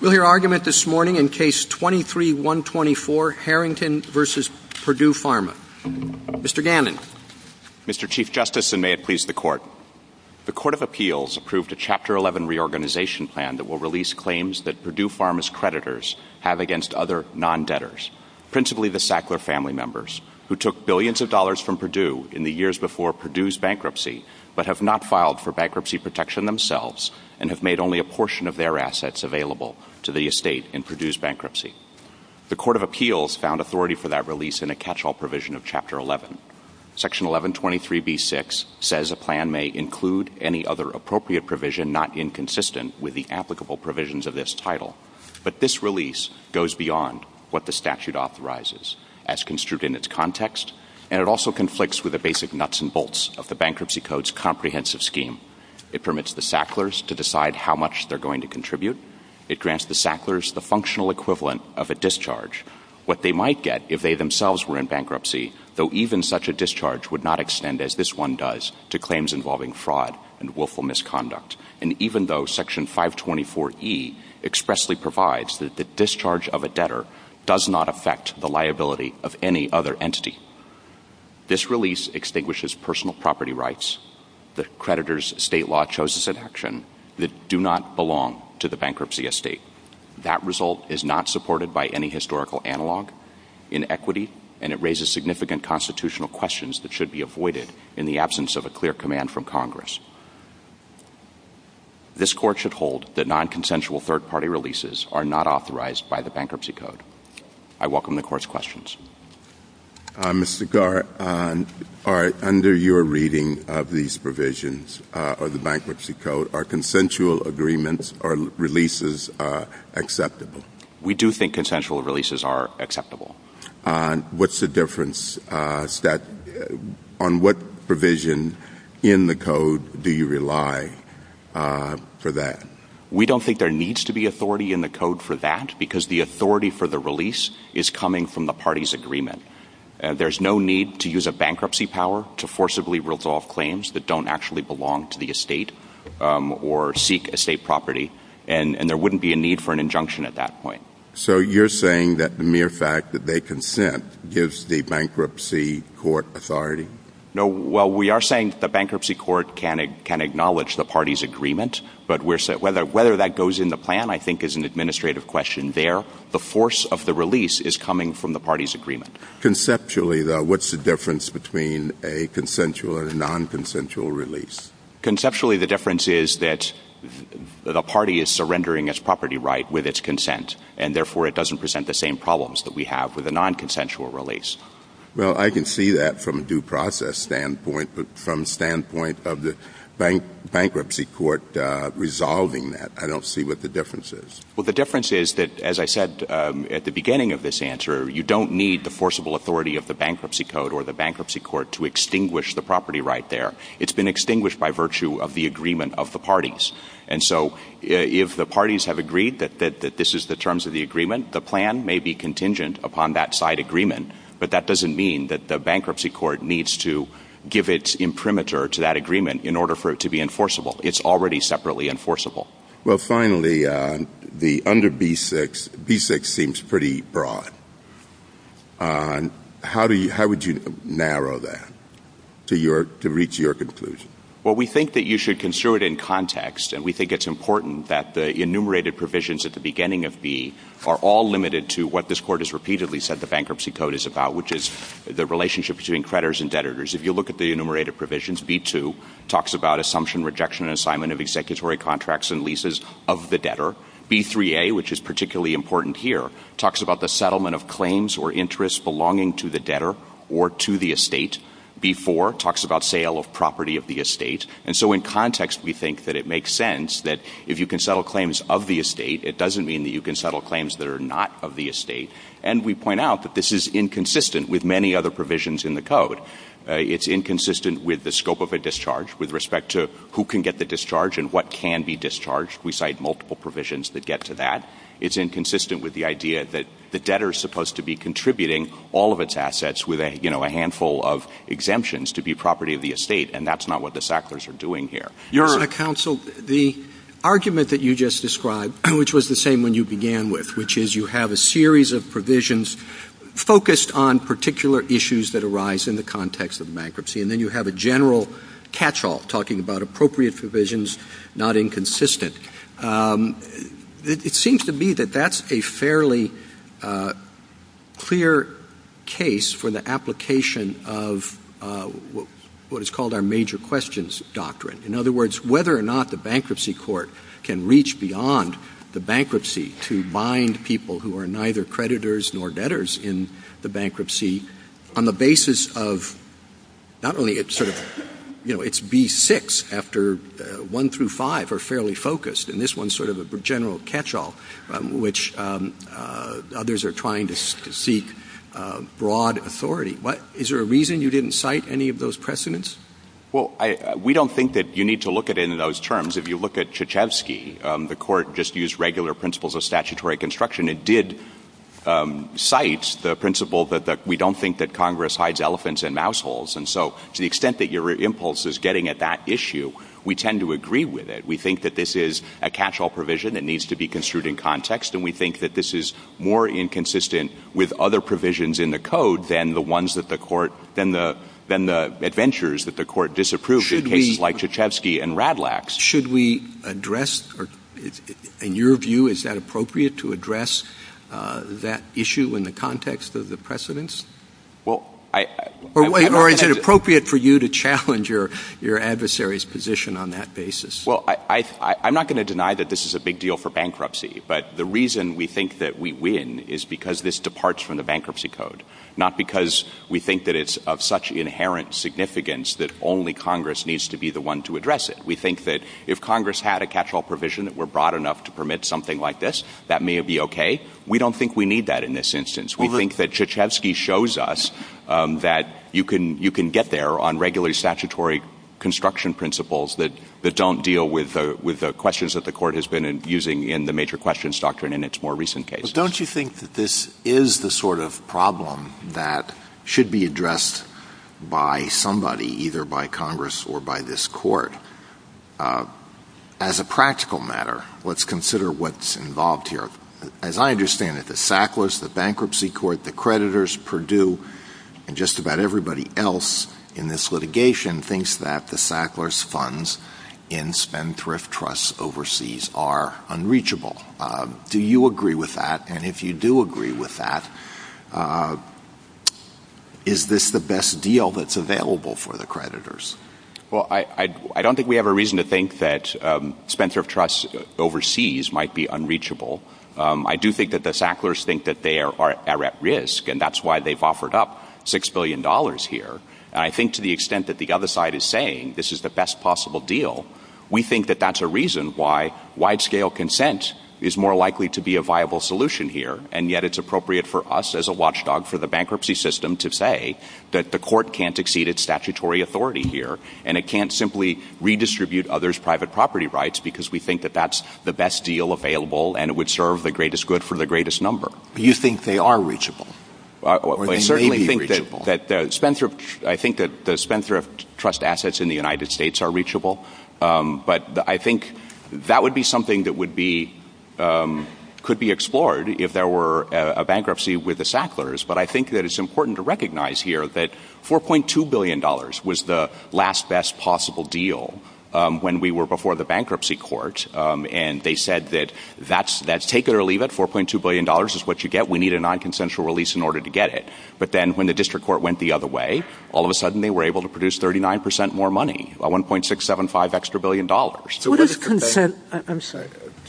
We'll hear argument this morning in Case 23-124, Harrington v. Purdue Pharma. Mr. Gannon. Mr. Chief Justice, and may it please the Court. The Court of Appeals approved a Chapter 11 reorganization plan that will release claims that Purdue Pharma's creditors have against other non-debtors, principally the Sackler family members, who took billions of dollars from Purdue in the years before Purdue's bankruptcy, but have not filed for bankruptcy protection themselves, and have made only a portion of their assets available to the estate in Purdue's bankruptcy. The Court of Appeals found authority for that release in a catch-all provision of Chapter 11. Section 1123b-6 says a plan may include any other appropriate provision not inconsistent with the applicable provisions of this title. But this release goes beyond what the statute authorizes, as construed in its context, and it also conflicts with the basic nuts and bolts of the Bankruptcy Code's comprehensive scheme. It permits the Sacklers to decide how much they're going to contribute. It grants the Sacklers the functional equivalent of a discharge. What they might get if they themselves were in bankruptcy, though even such a discharge would not extend as this one does, to claims involving fraud and willful misconduct. And even though Section 524e expressly provides that the discharge of a debtor does not affect the liability of any other entity, this release extinguishes personal property rights, the creditor's state law-chosen section, that do not belong to the bankruptcy estate. That result is not supported by any historical analog. Inequity, and it raises significant constitutional questions that should be avoided in the absence of a clear command from Congress. This Court should hold that nonconsensual third-party releases are not authorized by the Bankruptcy Code. I welcome the Court's questions. Mr. Garr, under your reading of these provisions of the Bankruptcy Code, are consensual agreements or releases acceptable? We do think consensual releases are acceptable. What's the difference? On what provision in the Code do you rely for that? We don't think there needs to be authority in the Code for that, because the authority for the release is coming from the parties' agreement. There's no need to use a bankruptcy power to forcibly resolve claims that don't actually belong to the estate or seek estate property, and there wouldn't be a need for an injunction at that point. So you're saying that the mere fact that they consent gives the Bankruptcy Court authority? No. Well, we are saying the Bankruptcy Court can acknowledge the parties' agreement, but whether that goes in the plan I think is an administrative question there. The force of the release is coming from the parties' agreement. Conceptually, though, what's the difference between a consensual and a nonconsensual release? Conceptually, the difference is that the party is surrendering its property right with its consent, and therefore it doesn't present the same problems that we have with a nonconsensual release. Well, I can see that from a due process standpoint, but from the standpoint of the Bankruptcy Court resolving that, I don't see what the difference is. Well, the difference is that, as I said at the beginning of this answer, you don't need the forcible authority of the Bankruptcy Code or the Bankruptcy Court to extinguish the property right there. It's been extinguished by virtue of the agreement of the parties. And so if the parties have agreed that this is the terms of the agreement, the plan may be contingent upon that side agreement, but that doesn't mean that the Bankruptcy Court needs to give it imprimatur to that agreement in order for it to be enforceable. It's already separately enforceable. Well, finally, under B-6, B-6 seems pretty broad. How would you narrow that to reach your conclusion? Well, we think that you should consider it in context, and we think it's important that the enumerated provisions at the beginning of B are all limited to what this Court has repeatedly said the Bankruptcy Code is about, which is the relationship between creditors and debtors. If you look at the enumerated provisions, B-2 talks about Assumption, Rejection, and Assignment of Executory Contracts and Leases of the Debtor. B-3a, which is particularly important here, talks about the Settlement of Claims or Interests Belonging to the Debtor or to the Estate. B-4 talks about Sale of Property of the Estate. And so in context, we think that it makes sense that if you can settle claims of the estate, it doesn't mean that you can settle claims that are not of the estate. And we point out that this is inconsistent with many other provisions in the Code. It's inconsistent with the scope of a discharge, with respect to who can get the discharge and what can be discharged. We cite multiple provisions that get to that. It's inconsistent with the idea that the debtor is supposed to be contributing all of its assets with a handful of exemptions to be property of the estate, and that's not what the Sacklers are doing here. Your Honor, Counsel, the argument that you just described, which was the same one you began with, which is you have a series of provisions focused on particular issues that arise in the context of bankruptcy, and then you have a general catch-all talking about appropriate provisions, not inconsistent. It seems to me that that's a fairly clear case for the application of what is called our Major Questions Doctrine. In other words, whether or not the bankruptcy court can reach beyond the bankruptcy to bind people who are neither creditors nor debtors in the bankruptcy, on the basis of not only its B-6 after 1 through 5 are fairly focused, and this one's sort of a general catch-all, which others are trying to seek broad authority. Is there a reason you didn't cite any of those precedents? Well, we don't think that you need to look at any of those terms. If you look at Krzyzewski, the court just used regular principles of statutory construction. It did cite the principle that we don't think that Congress hides elephants in mouse holes, and so to the extent that your impulse is getting at that issue, we tend to agree with it. We think that this is a catch-all provision. It needs to be construed in context, and we think that this is more inconsistent with other provisions in the Code than the adventures that the court disapproved in cases like Krzyzewski and Radlax. Should we address, in your view, is that appropriate to address that issue in the context of the precedents? Or is it appropriate for you to challenge your adversary's position on that basis? Well, I'm not going to deny that this is a big deal for bankruptcy, but the reason we think that we win is because this departs from the Bankruptcy Code, not because we think that it's of such inherent significance that only Congress needs to be the one to address it. We think that if Congress had a catch-all provision that were broad enough to permit something like this, that may be okay. We don't think we need that in this instance. We think that Krzyzewski shows us that you can get there on regular statutory construction principles that don't deal with the questions that the court has been using in the major questions doctrine in its more recent cases. Don't you think that this is the sort of problem that should be addressed by somebody, either by Congress or by this court? As a practical matter, let's consider what's involved here. As I understand it, the Sacklers, the Bankruptcy Court, the creditors, Purdue, and just about everybody else in this litigation thinks that the Sacklers' funds in Spendthrift Trusts overseas are unreachable. Do you agree with that? And if you do agree with that, is this the best deal that's available for the creditors? Well, I don't think we have a reason to think that Spendthrift Trusts overseas might be unreachable. I do think that the Sacklers think that they are at risk, and that's why they've offered up $6 billion here. I think to the extent that the other side is saying this is the best possible deal, we think that that's a reason why wide-scale consent is more likely to be a viable solution here. And yet it's appropriate for us as a watchdog for the bankruptcy system to say that the court can't exceed its statutory authority here, and it can't simply redistribute others' private property rights because we think that that's the best deal available and it would serve the greatest good for the greatest number. Do you think they are reachable? I certainly think that the Spendthrift Trust assets in the United States are reachable, but I think that would be something that could be explored if there were a bankruptcy with the Sacklers. But I think that it's important to recognize here that $4.2 billion was the last best possible deal when we were before the bankruptcy court, and they said that take it or leave it, $4.2 billion is what you get. We need a nonconsensual release in order to get it. But then when the district court went the other way, all of a sudden they were able to produce 39 percent more money, $1.675 extra billion.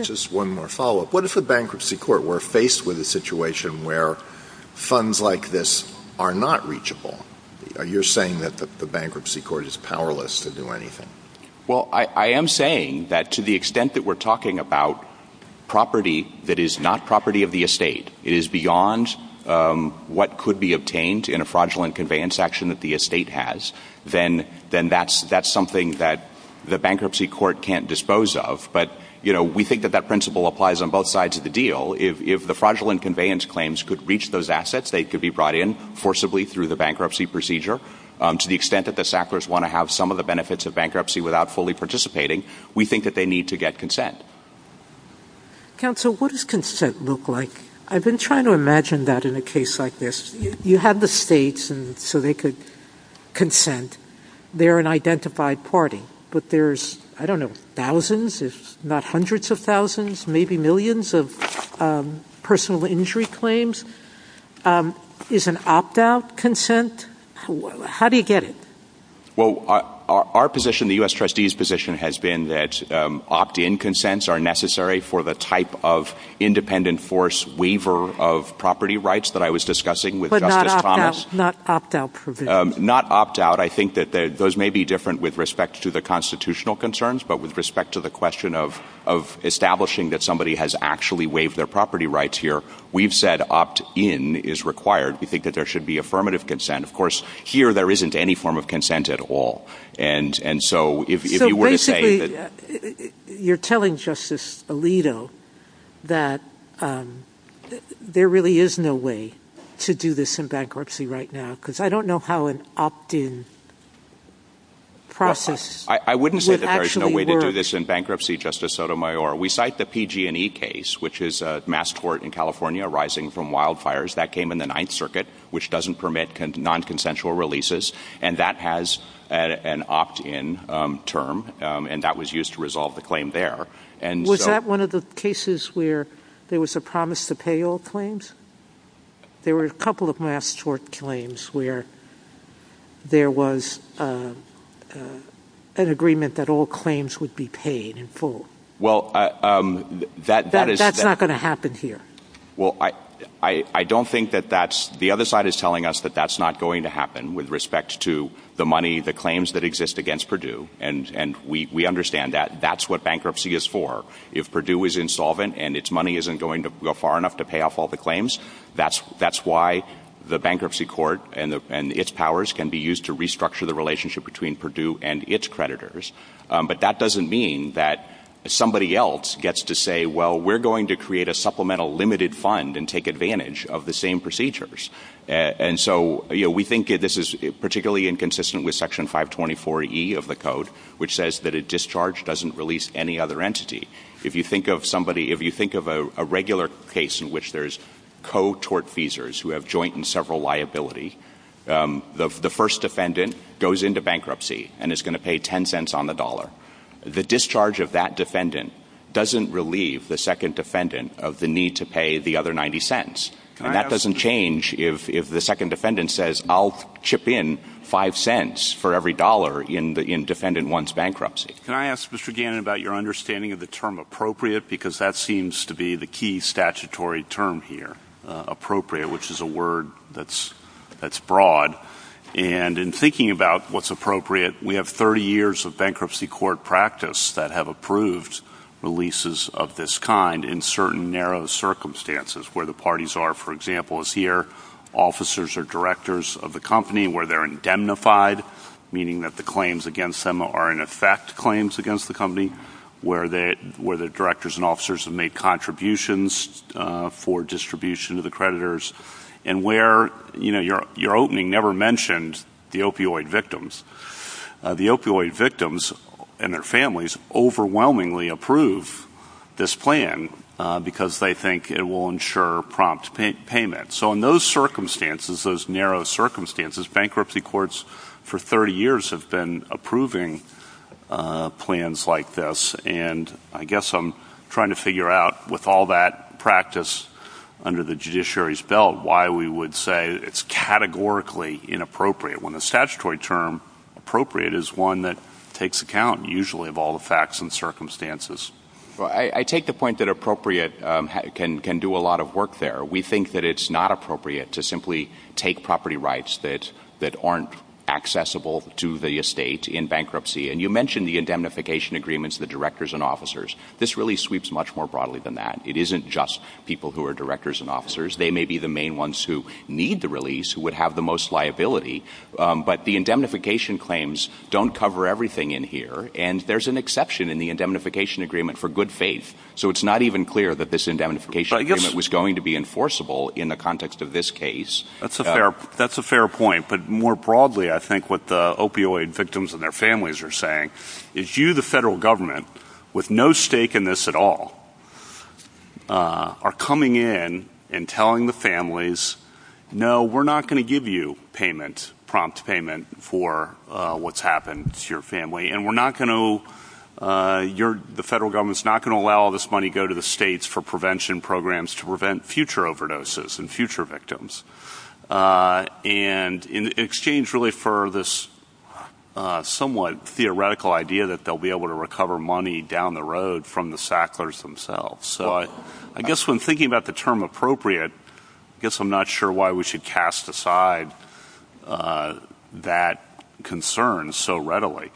Just one more follow-up. What if a bankruptcy court were faced with a situation where funds like this are not reachable? You're saying that the bankruptcy court is powerless to do anything. Well, I am saying that to the extent that we're talking about property that is not property of the estate, it is beyond what could be obtained in a fraudulent conveyance action that the estate has, then that's something that the bankruptcy court can't dispose of. But we think that that principle applies on both sides of the deal. If the fraudulent conveyance claims could reach those assets, they could be brought in forcibly through the bankruptcy procedure. To the extent that the Sacklers want to have some of the benefits of bankruptcy without fully participating, we think that they need to get consent. Counsel, what does consent look like? I've been trying to imagine that in a case like this. You have the states so they could consent. They're an identified party. But there's, I don't know, thousands, if not hundreds of thousands, maybe millions of personal injury claims. Is an opt-out consent? How do you get it? Well, our position, the U.S. Trustee's position, has been that opt-in consents are necessary for the type of independent force waiver of property rights that I was discussing with Justice Thomas. But not opt-out provisions? Not opt-out. I think that those may be different with respect to the constitutional concerns, but with respect to the question of establishing that somebody has actually waived their property rights here, we've said opt-in is required. We think that there should be affirmative consent. Of course, here there isn't any form of consent at all. So basically, you're telling Justice Alito that there really is no way to do this in bankruptcy right now, because I don't know how an opt-in process would actually work. I wouldn't say that there's no way to do this in bankruptcy, Justice Sotomayor. We cite the PG&E case, which is a mass court in California arising from wildfires. That came in the Ninth Circuit, which doesn't permit nonconsensual releases, and that has an opt-in term, and that was used to resolve the claim there. Was that one of the cases where there was a promise to pay all claims? There were a couple of mass court claims where there was an agreement that all claims would be paid in full. That's not going to happen here. Well, I don't think that that's – the other side is telling us that that's not going to happen with respect to the money, the claims that exist against Purdue, and we understand that that's what bankruptcy is for. If Purdue is insolvent and its money isn't going to go far enough to pay off all the claims, that's why the bankruptcy court and its powers can be used to restructure the relationship between Purdue and its creditors. But that doesn't mean that somebody else gets to say, well, we're going to create a supplemental limited fund and take advantage of the same procedures. And so we think this is particularly inconsistent with Section 524E of the code, which says that a discharge doesn't release any other entity. If you think of somebody – if you think of a regular case in which there's co-tort feesers who have joint and several liability, the first defendant goes into bankruptcy and is going to pay $0.10 on the dollar. The discharge of that defendant doesn't relieve the second defendant of the need to pay the other $0.90. And that doesn't change if the second defendant says, I'll chip in $0.05 for every dollar in defendant one's bankruptcy. Can I ask, Mr. Gannon, about your understanding of the term appropriate? Because that seems to be the key statutory term here, appropriate, which is a word that's broad. And in thinking about what's appropriate, we have 30 years of bankruptcy court practice that have approved releases of this kind in certain narrow circumstances, where the parties are, for example, as here, officers or directors of the company, where they're indemnified, meaning that the claims against them are, in effect, claims against the company, where the directors and officers have made contributions for distribution to the creditors, and where your opening never mentioned the opioid victims. The opioid victims and their families overwhelmingly approve this plan because they think it will ensure prompt payment. So in those circumstances, those narrow circumstances, bankruptcy courts for 30 years have been approving plans like this. And I guess I'm trying to figure out, with all that practice under the judiciary's belt, why we would say it's categorically inappropriate when the statutory term appropriate is one that takes account, usually, of all the facts and circumstances. I take the point that appropriate can do a lot of work there. We think that it's not appropriate to simply take property rights that aren't accessible to the estate in bankruptcy. And you mentioned the indemnification agreements, the directors and officers. This really sweeps much more broadly than that. It isn't just people who are directors and officers. They may be the main ones who need the release, who would have the most liability. But the indemnification claims don't cover everything in here. And there's an exception in the indemnification agreement for good faith. So it's not even clear that this indemnification agreement was going to be enforceable in the context of this case. That's a fair point. But more broadly, I think what the opioid victims and their families are saying is you, the federal government, with no stake in this at all, are coming in and telling the families, no, we're not going to give you payment, prompt payment, for what's happened to your family. The federal government is not going to allow all this money to go to the states for prevention programs to prevent future overdoses and future victims. And in exchange really for this somewhat theoretical idea that they'll be able to recover money down the road from the Sacklers themselves. So I guess when thinking about the term appropriate, I guess I'm not sure why we should cast aside that concern so readily.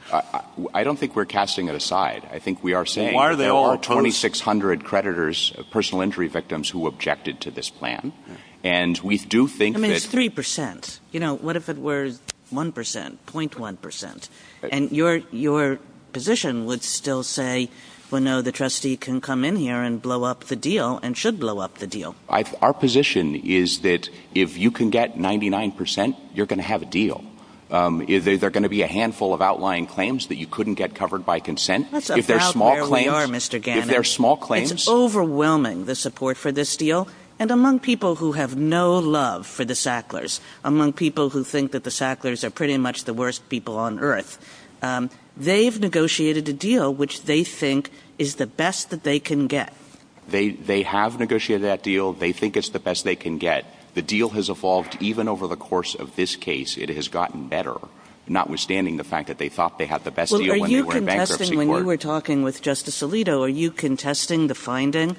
I don't think we're casting it aside. I think we are saying there are 2,600 creditors, personal injury victims, who objected to this plan. And we do think that... I mean, it's 3%. You know, what if it were 1%, 0.1%? And your position would still say, well, no, the trustee can come in here and blow up the deal and should blow up the deal. Our position is that if you can get 99%, you're going to have a deal. There are going to be a handful of outlying claims that you couldn't get covered by consent. That's about where we are, Mr. Gannon. If they're small claims... It's overwhelming, the support for this deal. And among people who have no love for the Sacklers, among people who think that the Sacklers are pretty much the worst people on earth, they've negotiated a deal which they think is the best that they can get. They have negotiated that deal. They think it's the best they can get. The deal has evolved even over the course of this case. It has gotten better, notwithstanding the fact that they thought they had the best deal when they were in bankruptcy. Well, are you contesting, when you were talking with Justice Alito, are you contesting the finding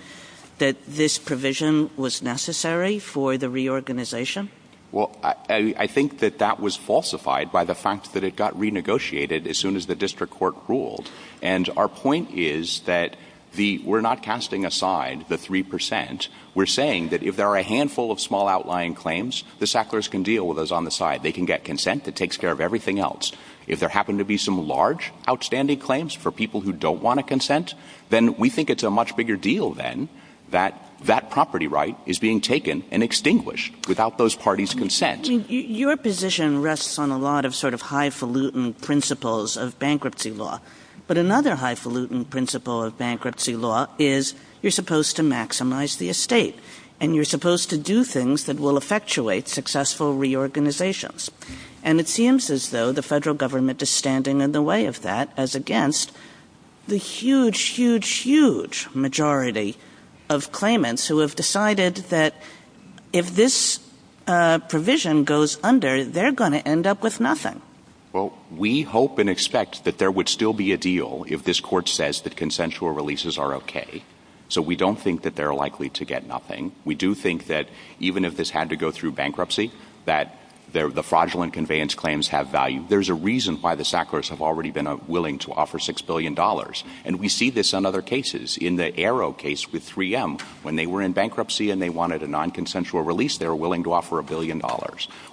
that this provision was necessary for the reorganization? Well, I think that that was falsified by the fact that it got renegotiated as soon as the district court ruled. And our point is that we're not casting aside the 3%. We're saying that if there are a handful of small outlying claims, the Sacklers can deal with those on the side. They can get consent that takes care of everything else. If there happen to be some large outstanding claims for people who don't want a consent, then we think it's a much bigger deal then that that property right is being taken and extinguished without those parties' consent. Your position rests on a lot of sort of highfalutin principles of bankruptcy law. But another highfalutin principle of bankruptcy law is you're supposed to maximize the estate. And you're supposed to do things that will effectuate successful reorganizations. And it seems as though the federal government is standing in the way of that as against the huge, huge, huge majority of claimants who have decided that if this provision goes under, they're going to end up with nothing. Well, we hope and expect that there would still be a deal if this court says that consensual releases are okay. So we don't think that they're likely to get nothing. We do think that even if this had to go through bankruptcy, that the fraudulent conveyance claims have value. There's a reason why the Sacklers have already been willing to offer $6 billion. And we see this in other cases. In the Arrow case with 3M, when they were in bankruptcy and they wanted a non-consensual release, they were willing to offer $1 billion.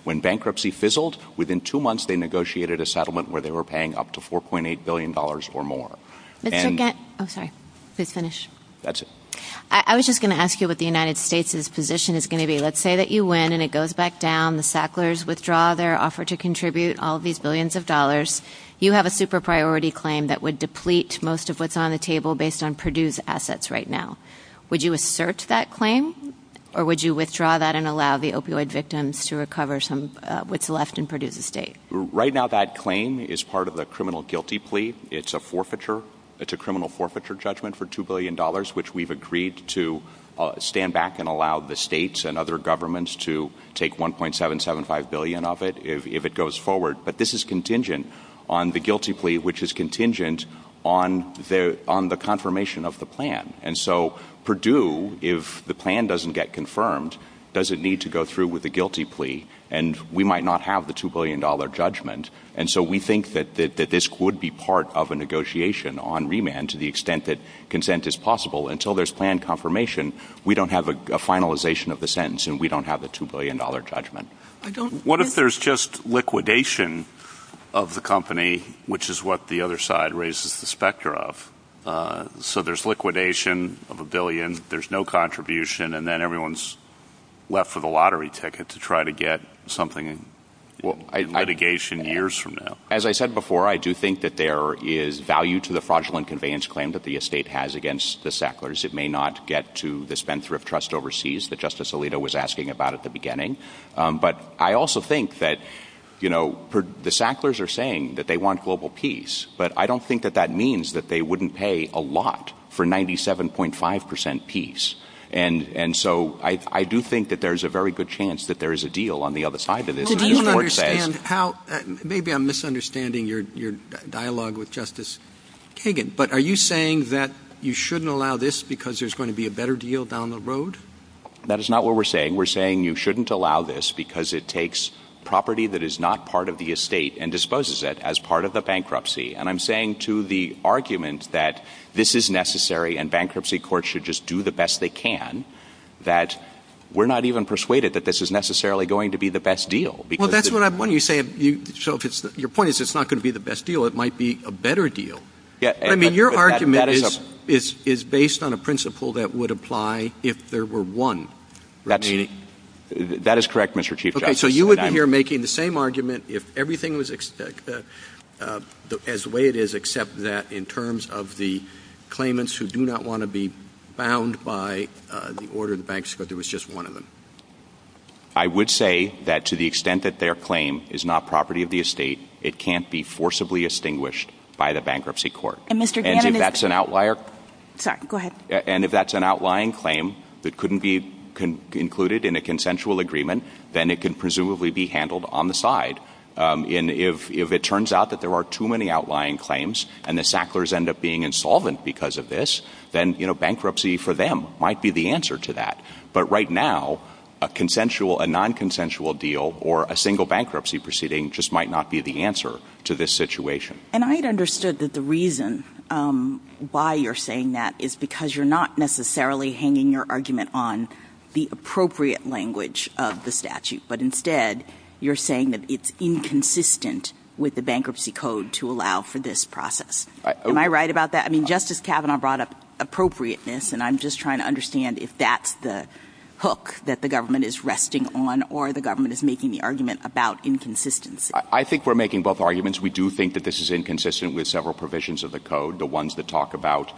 When bankruptcy fizzled, within two months they negotiated a settlement where they were paying up to $4.8 billion or more. I was just going to ask you what the United States' position is going to be. Let's say that you win and it goes back down. The Sacklers withdraw their offer to contribute all these billions of dollars. You have a super priority claim that would deplete most of what's on the table based on Purdue's assets right now. Would you assert that claim or would you withdraw that and allow the opioid victims to recover what's left in Purdue's estate? Right now that claim is part of the criminal guilty plea. It's a criminal forfeiture judgment for $2 billion, which we've agreed to stand back and allow the states and other governments to take $1.775 billion of it if it goes forward. But this is contingent on the guilty plea, which is contingent on the confirmation of the plan. Purdue, if the plan doesn't get confirmed, doesn't need to go through with the guilty plea. We might not have the $2 billion judgment. We think that this would be part of a negotiation on remand to the extent that consent is possible. Until there's plan confirmation, we don't have a finalization of the sentence and we don't have the $2 billion judgment. What if there's just liquidation of the company, which is what the other side raises the specter of? So there's liquidation of a billion, there's no contribution, and then everyone's left with a lottery ticket to try to get something in litigation years from now. As I said before, I do think that there is value to the fraudulent conveyance claim that the estate has against the Sacklers. It may not get to the Spendthrift Trust overseas that Justice Alito was asking about at the beginning. But I also think that the Sacklers are saying that they want global peace, but I don't think that that means that they wouldn't pay a lot for 97.5% peace. And so I do think that there's a very good chance that there is a deal on the other side of this. Maybe I'm misunderstanding your dialogue with Justice Kagan, but are you saying that you shouldn't allow this because there's going to be a better deal down the road? That is not what we're saying. We're saying you shouldn't allow this because it takes property that is not part of the estate and disposes it as part of the bankruptcy. And I'm saying to the argument that this is necessary and bankruptcy courts should just do the best they can that we're not even persuaded that this is necessarily going to be the best deal. Well, that's what I want you to say. Your point is it's not going to be the best deal. It might be a better deal. I mean, your argument is based on a principle that would apply if there were one. That is correct, Mr. Chief Justice. So you would be here making the same argument if everything was as the way it is, except that in terms of the claimants who do not want to be bound by the order of the banks, but there was just one of them. I would say that to the extent that their claim is not property of the estate, it can't be forcibly extinguished by the bankruptcy court. And if that's an outlying claim that couldn't be included in a consensual agreement, then it can presumably be handled on the side. And if it turns out that there are too many outlying claims and the Sacklers end up being insolvent because of this, then bankruptcy for them might be the answer to that. But right now, a non-consensual deal or a single bankruptcy proceeding just might not be the answer to this situation. And I understood that the reason why you're saying that is because you're not necessarily hanging your argument on the appropriate language of the statute. But instead, you're saying that it's inconsistent with the bankruptcy code to allow for this process. Am I right about that? I mean, Justice Kavanaugh brought up appropriateness, and I'm just trying to understand if that's the hook that the government is resting on or the government is making the argument about inconsistency. I think we're making both arguments. We do think that this is inconsistent with several provisions of the code. The ones that talk about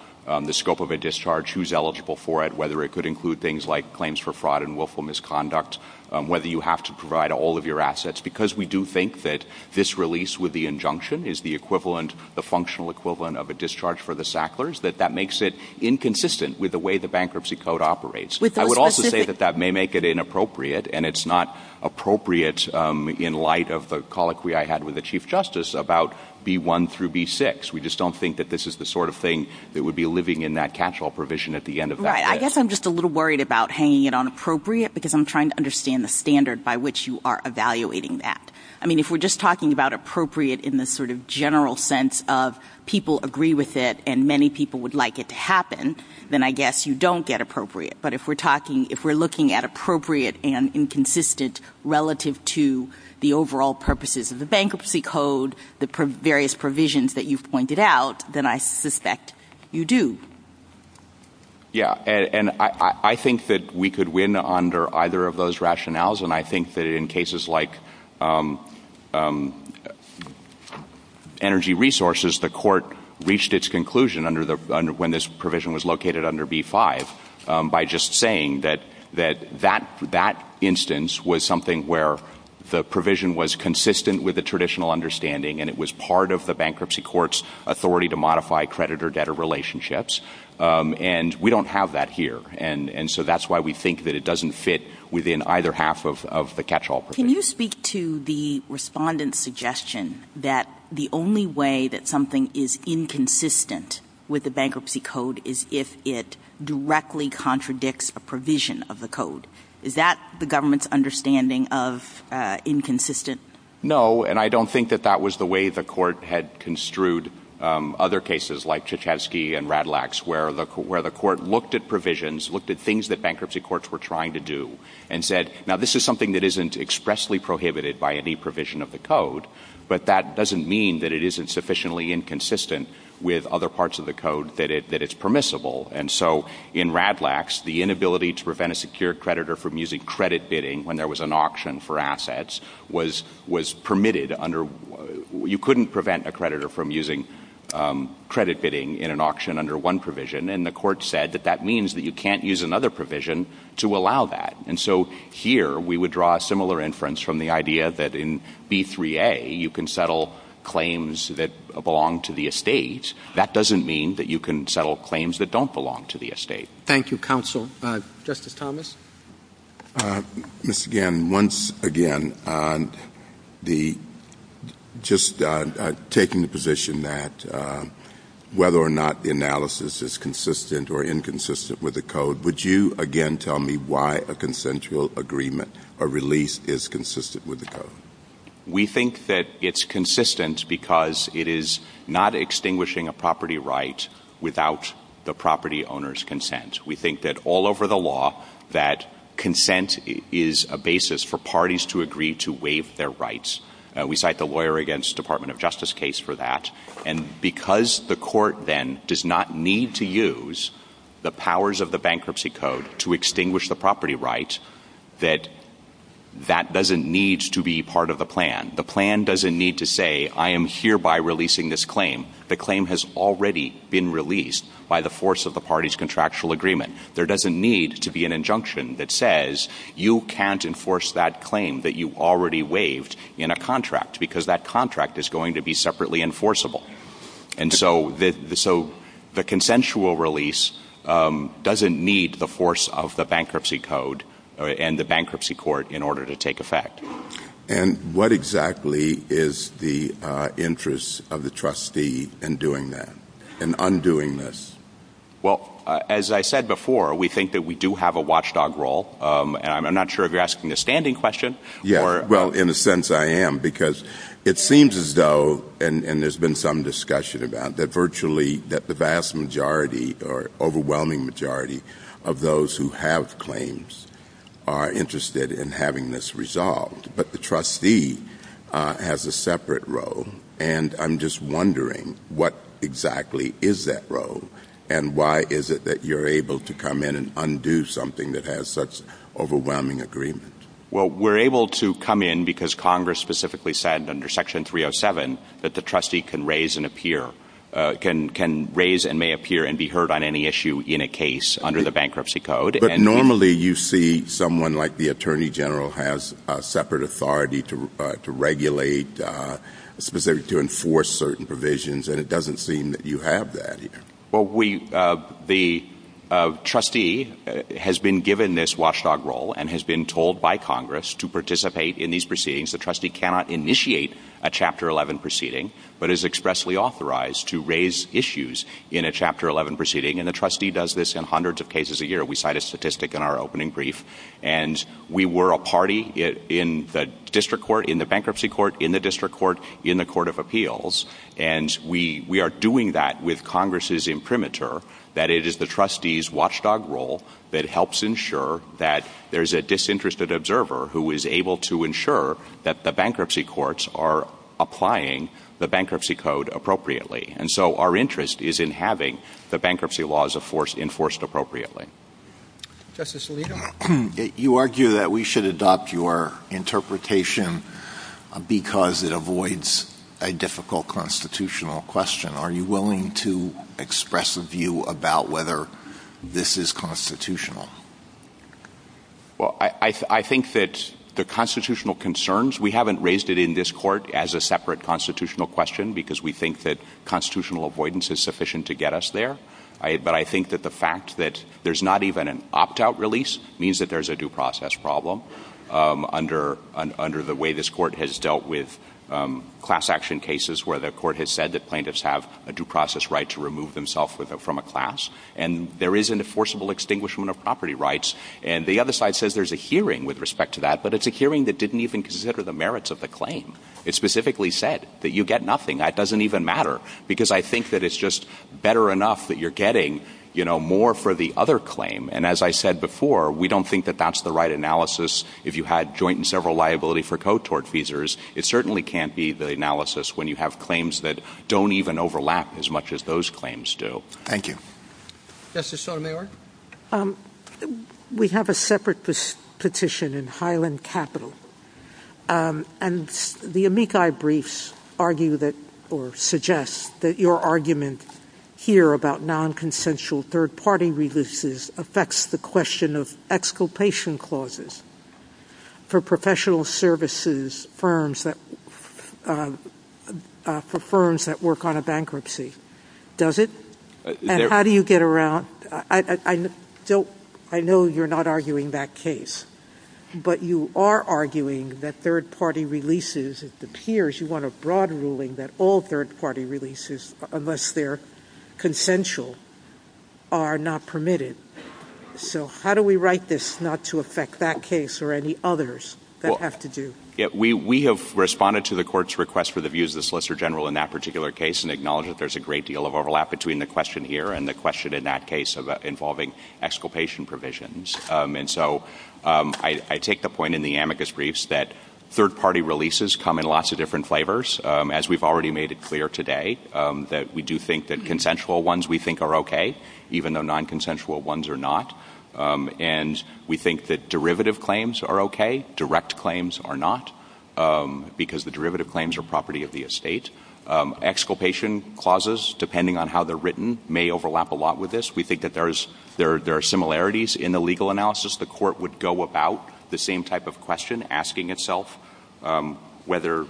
the scope of a discharge, who's eligible for it, whether it could include things like claims for fraud and willful misconduct, whether you have to provide all of your assets. Because we do think that this release with the injunction is the equivalent, the functional equivalent of a discharge for the Sacklers, that that makes it inconsistent with the way the bankruptcy code operates. I would also say that that may make it inappropriate, and it's not appropriate in light of the colloquy I had with the Chief Justice about B-1 through B-6. We just don't think that this is the sort of thing that would be living in that catch-all provision at the end of that case. I guess I'm just a little worried about hanging it on appropriate because I'm trying to understand the standard by which you are evaluating that. I mean, if we're just talking about appropriate in the sort of general sense of people agree with it and many people would like it to happen, then I guess you don't get appropriate. But if we're looking at appropriate and inconsistent relative to the overall purposes of the bankruptcy code, the various provisions that you've pointed out, then I suspect you do. Yeah, and I think that we could win under either of those rationales, and I think that in cases like energy resources, the court reached its conclusion when this provision was located under B-5 by just saying that that instance was something where the provision was consistent with the traditional understanding and it was part of the bankruptcy court's authority to modify creditor-debtor relationships. And we don't have that here, and so that's why we think that it doesn't fit within either half of the catch-all provision. Can you speak to the respondent's suggestion that the only way that something is inconsistent with the bankruptcy code is if it directly contradicts a provision of the code? Is that the government's understanding of inconsistent? No, and I don't think that that was the way the court had construed other cases like Tchaikovsky and Radlax, where the court looked at provisions, looked at things that bankruptcy courts were trying to do, and said, now this is something that isn't expressly prohibited by any provision of the code, but that doesn't mean that it isn't sufficiently inconsistent with other parts of the code that it's permissible. And so in Radlax, the inability to prevent a secured creditor from using credit bidding when there was an auction for assets was permitted under – you couldn't prevent a creditor from using credit bidding in an auction under one provision, and the court said that that means that you can't use another provision to allow that. And so here, we would draw a similar inference from the idea that in B3A, you can settle claims that belong to the estates. That doesn't mean that you can settle claims that don't belong to the estate. Thank you, counsel. Justice Thomas? Mr. Gannon, once again, just taking the position that whether or not the analysis is consistent or inconsistent with the code, would you again tell me why a consensual agreement or release is consistent with the code? We think that it's consistent because it is not extinguishing a property right without the property owner's consent. We think that all over the law that consent is a basis for parties to agree to waive their rights. We cite the Lawyer Against the Department of Justice case for that. And because the court then does not need to use the powers of the Bankruptcy Code to extinguish the property rights, that that doesn't need to be part of the plan. The plan doesn't need to say, I am hereby releasing this claim. The claim has already been released by the force of the party's contractual agreement. There doesn't need to be an injunction that says you can't enforce that claim that you already waived in a contract because that contract is going to be separately enforceable. And so the consensual release doesn't need the force of the Bankruptcy Code and the Bankruptcy Court in order to take effect. And what exactly is the interest of the trustee in doing that, in undoing this? Well, as I said before, we think that we do have a watchdog role. I'm not sure if you're asking a standing question. Well, in a sense I am, because it seems as though, and there's been some discussion about that virtually, that the vast majority or overwhelming majority of those who have claims are interested in having this resolved. But the trustee has a separate role. And I'm just wondering what exactly is that role and why is it that you're able to come in and undo something that has such overwhelming agreement? Well, we're able to come in because Congress specifically said under Section 307 that the trustee can raise and may appear and be heard on any issue in a case under the Bankruptcy Code. But normally you see someone like the Attorney General has separate authority to regulate, specifically to enforce certain provisions, and it doesn't seem that you have that here. Well, the trustee has been given this watchdog role and has been told by Congress to participate in these proceedings. The trustee cannot initiate a Chapter 11 proceeding, but is expressly authorized to raise issues in a Chapter 11 proceeding. And the trustee does this in hundreds of cases a year. We cite a statistic in our opening brief. And we were a party in the District Court, in the Bankruptcy Court, in the District Court, in the Court of Appeals. And we are doing that with Congress's imprimatur that it is the trustee's watchdog role that helps ensure that there's a disinterested observer who is able to ensure that the bankruptcy courts are applying the Bankruptcy Code appropriately. And so our interest is in having the bankruptcy laws enforced appropriately. Justice Alito, you argue that we should adopt your interpretation because it avoids a difficult constitutional question. Are you willing to express a view about whether this is constitutional? Well, I think that the constitutional concerns, we haven't raised it in this court as a separate constitutional question because we think that constitutional avoidance is sufficient to get us there. But I think that the fact that there's not even an opt-out release means that there's a due process problem under the way this court has dealt with class action cases where the court has said that plaintiffs have a due process right to remove themselves from a class. And there is an enforceable extinguishment of property rights. And the other side says there's a hearing with respect to that, but it's a hearing that didn't even consider the merits of the claim. It specifically said that you get nothing. That doesn't even matter because I think that it's just better enough that you're getting more for the other claim. And as I said before, we don't think that that's the right analysis. If you had joint and several liability for co-tort fees, it certainly can't be the analysis when you have claims that don't even overlap as much as those claims do. Thank you. We have a separate petition in Highland Capital. And the amici briefs argue that or suggest that your argument here about non-consensual third-party releases affects the question of exculpation clauses for professional services firms that work on a bankruptcy. Does it? How do you get around? I know you're not arguing that case, but you are arguing that third-party releases of the peers. You want a broad ruling that all third-party releases, unless they're consensual, are not permitted. So how do we write this not to affect that case or any others that have to do? We have responded to the court's request for the views of the Solicitor General in that particular case and acknowledge that there's a great deal of overlap between the question here and the question in that case involving exculpation provisions. And so I take the point in the amicus briefs that third-party releases come in lots of different flavors, as we've already made it clear today, that we do think that consensual ones we think are OK, even though non-consensual ones are not. And we think that derivative claims are OK, direct claims are not, because the derivative claims are property of the estate. Exculpation clauses, depending on how they're written, may overlap a lot with this. We think that there are similarities in the legal analysis. The court would go about the same type of question, asking itself whether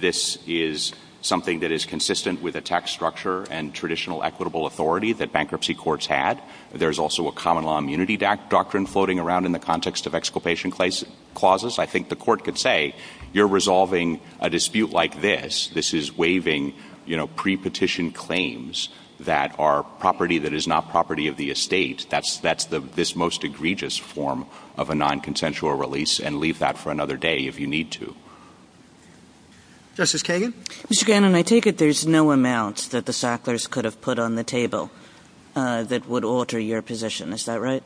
this is something that is consistent with a tax structure and traditional equitable authority that bankruptcy courts had. There's also a common law immunity doctrine floating around in the context of exculpation clauses. I think the court could say, you're resolving a dispute like this. This is waiving, you know, pre-petition claims that are property that is not property of the estate. That's this most egregious form of a non-consensual release, and leave that for another day if you need to. Justice Kagan? Mr. Gannon, I take it there's no amount that the Sacklers could have put on the table that would alter your position, is that right?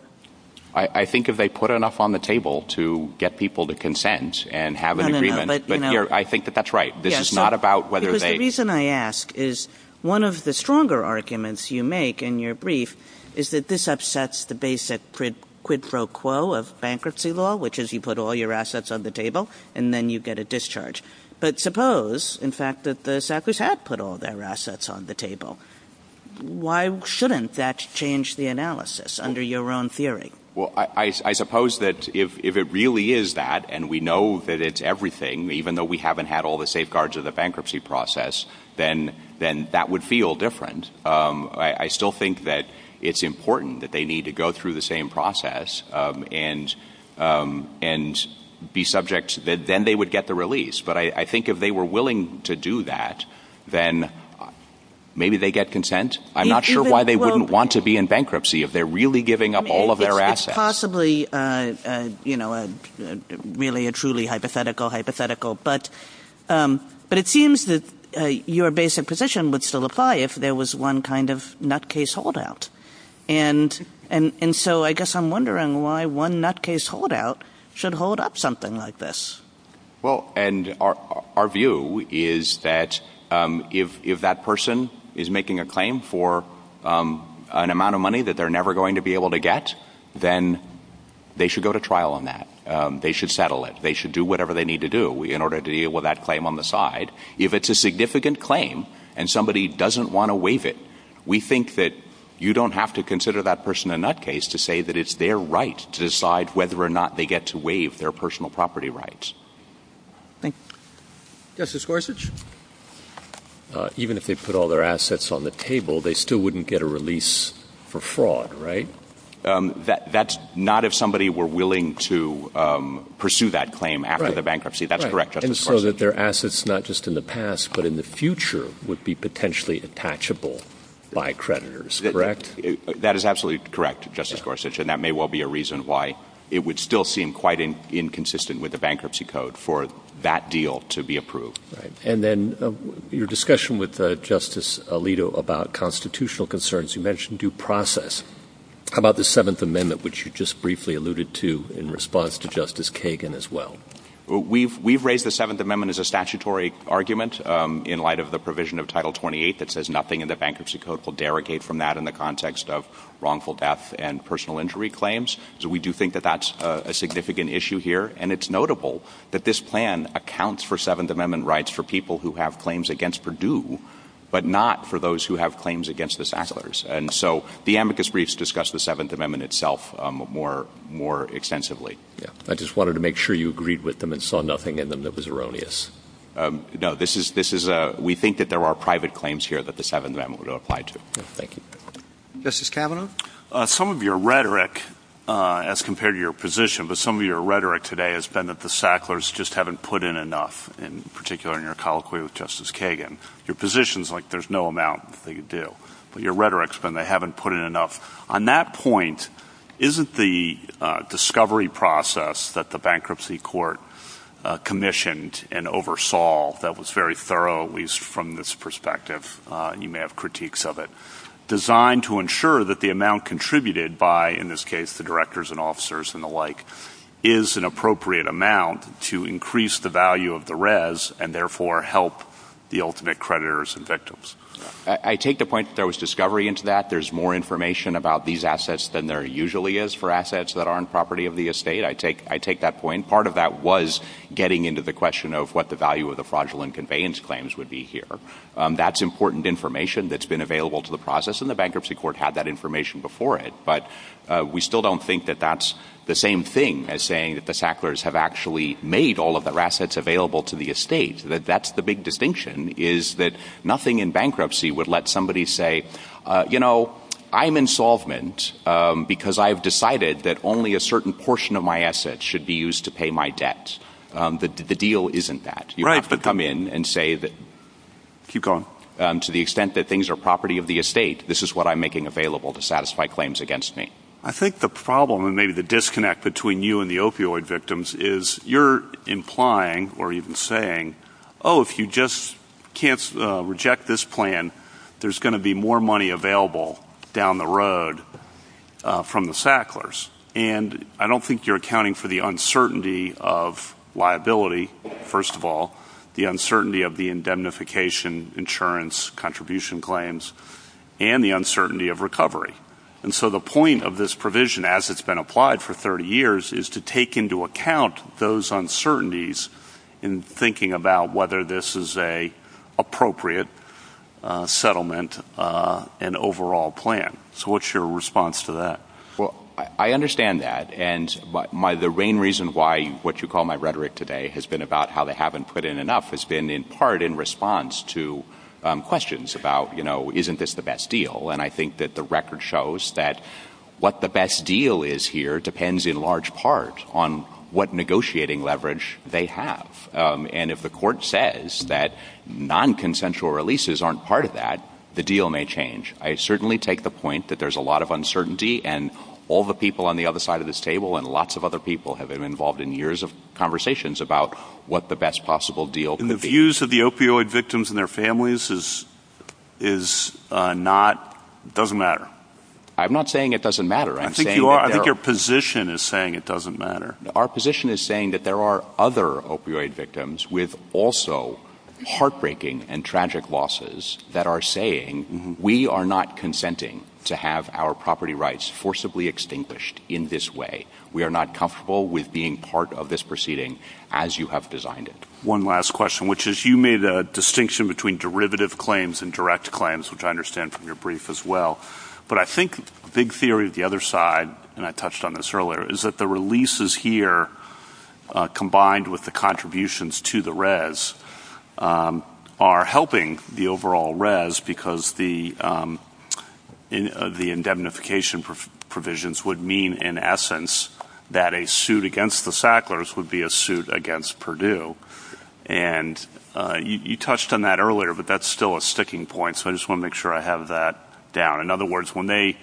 I think if they put enough on the table to get people to consent and have an agreement, but I think that that's right. This is not about whether they... Because the reason I ask is one of the stronger arguments you make in your brief is that this upsets the basic quid pro quo of bankruptcy law, which is you put all your assets on the table and then you get a discharge. But suppose, in fact, that the Sacklers had put all their assets on the table. Why shouldn't that change the analysis under your own theory? Well, I suppose that if it really is that, and we know that it's everything, even though we haven't had all the safeguards of the bankruptcy process, then that would feel different. I still think that it's important that they need to go through the same process and be subject, then they would get the release. But I think if they were willing to do that, then maybe they'd get consent. I'm not sure why they wouldn't want to be in bankruptcy if they're really giving up all of their assets. Possibly, really a truly hypothetical hypothetical, but it seems that your basic position would still apply if there was one kind of nutcase holdout. And so I guess I'm wondering why one nutcase holdout should hold up something like this. Well, and our view is that if that person is making a claim for an amount of money that they're never going to be able to get, then they should go to trial on that. They should settle it. They should do whatever they need to do in order to deal with that claim on the side. If it's a significant claim and somebody doesn't want to waive it, we think that you don't have to consider that person a nutcase to say that it's their right to decide whether or not they get to waive their personal property rights. Justice Gorsuch, even if they put all their assets on the table, they still wouldn't get a release for fraud, right? That's not if somebody were willing to pursue that claim after the bankruptcy. That's correct. And so that their assets, not just in the past, but in the future, would be potentially attachable by creditors. Correct? That is absolutely correct, Justice Gorsuch, and that may well be a reason why it would still seem quite inconsistent with the Bankruptcy Code for that deal to be approved. And then your discussion with Justice Alito about constitutional concerns, you mentioned due process. How about the Seventh Amendment, which you just briefly alluded to in response to Justice Kagan as well? We've raised the Seventh Amendment as a statutory argument in light of the provision of Title 28 that says nothing in the Bankruptcy Code will derogate from that in the context of wrongful death and personal injury claims. So we do think that that's a significant issue here, and it's notable that this plan accounts for Seventh Amendment rights for people who have claims against Purdue, but not for those who have claims against the Sasslers. And so the amicus briefs discuss the Seventh Amendment itself more extensively. I just wanted to make sure you agreed with them and saw nothing in them that was erroneous. No, we think that there are private claims here that the Seventh Amendment would apply to. Thank you. Justice Kavanaugh? Some of your rhetoric, as compared to your position, but some of your rhetoric today has been that the Sasslers just haven't put in enough, in particular in your colloquy with Justice Kagan. Your position's like there's no amount they could do, but your rhetoric's been they haven't put in enough. On that point, isn't the discovery process that the bankruptcy court commissioned and oversaw that was very thorough, at least from this perspective, and you may have critiques of it, designed to ensure that the amount contributed by, in this case, the directors and officers and the like, is an appropriate amount to increase the value of the res, and therefore help the ultimate creditors and victims? I take the point that there was discovery into that. There's more information about these assets than there usually is for assets that are on property of the estate. I take that point. Part of that was getting into the question of what the value of the fraudulent conveyance claims would be here. That's important information that's been available to the process, and the bankruptcy court had that information before it, but we still don't think that that's the same thing as saying that the Sasslers have actually made all of their assets available to the estate. That's the big distinction, is that nothing in bankruptcy would let somebody say, you know, I'm insolvent because I've decided that only a certain portion of my assets should be used to pay my debts. The deal isn't that. You have to come in and say that to the extent that things are property of the estate, this is what I'm making available to satisfy claims against me. I think the problem and maybe the disconnect between you and the opioid victims is you're implying or even saying, oh, if you just can't reject this plan, there's going to be more money available down the road from the Sasslers. And I don't think you're accounting for the uncertainty of liability, first of all, the uncertainty of the indemnification insurance contribution claims, and the uncertainty of recovery. And so the point of this provision, as it's been applied for 30 years, is to take into account those uncertainties in thinking about whether this is an appropriate settlement and overall plan. So what's your response to that? And I think that the record shows that what the best deal is here depends in large part on what negotiating leverage they have. And if the court says that non-consensual releases aren't part of that, the deal may change. I certainly take the point that there's a lot of uncertainty, and all the people on the other side of this table and lots of other people have been involved in years of conversations about what the best possible deal could be. The use of the opioid victims and their families is not – doesn't matter. I'm not saying it doesn't matter. I think your position is saying it doesn't matter. Our position is saying that there are other opioid victims with also heartbreaking and tragic losses that are saying we are not consenting to have our property rights forcibly extinguished in this way. We are not comfortable with being part of this proceeding as you have designed it. One last question, which is you made a distinction between derivative claims and direct claims, which I understand from your brief as well. But I think the big theory of the other side, and I touched on this earlier, is that the releases here combined with the contributions to the res are helping the overall res because the indemnification provisions would mean in essence that a suit against the Sacklers would be a suit against Purdue. And you touched on that earlier, but that's still a sticking point. So I just want to make sure I have that down. In other words, when they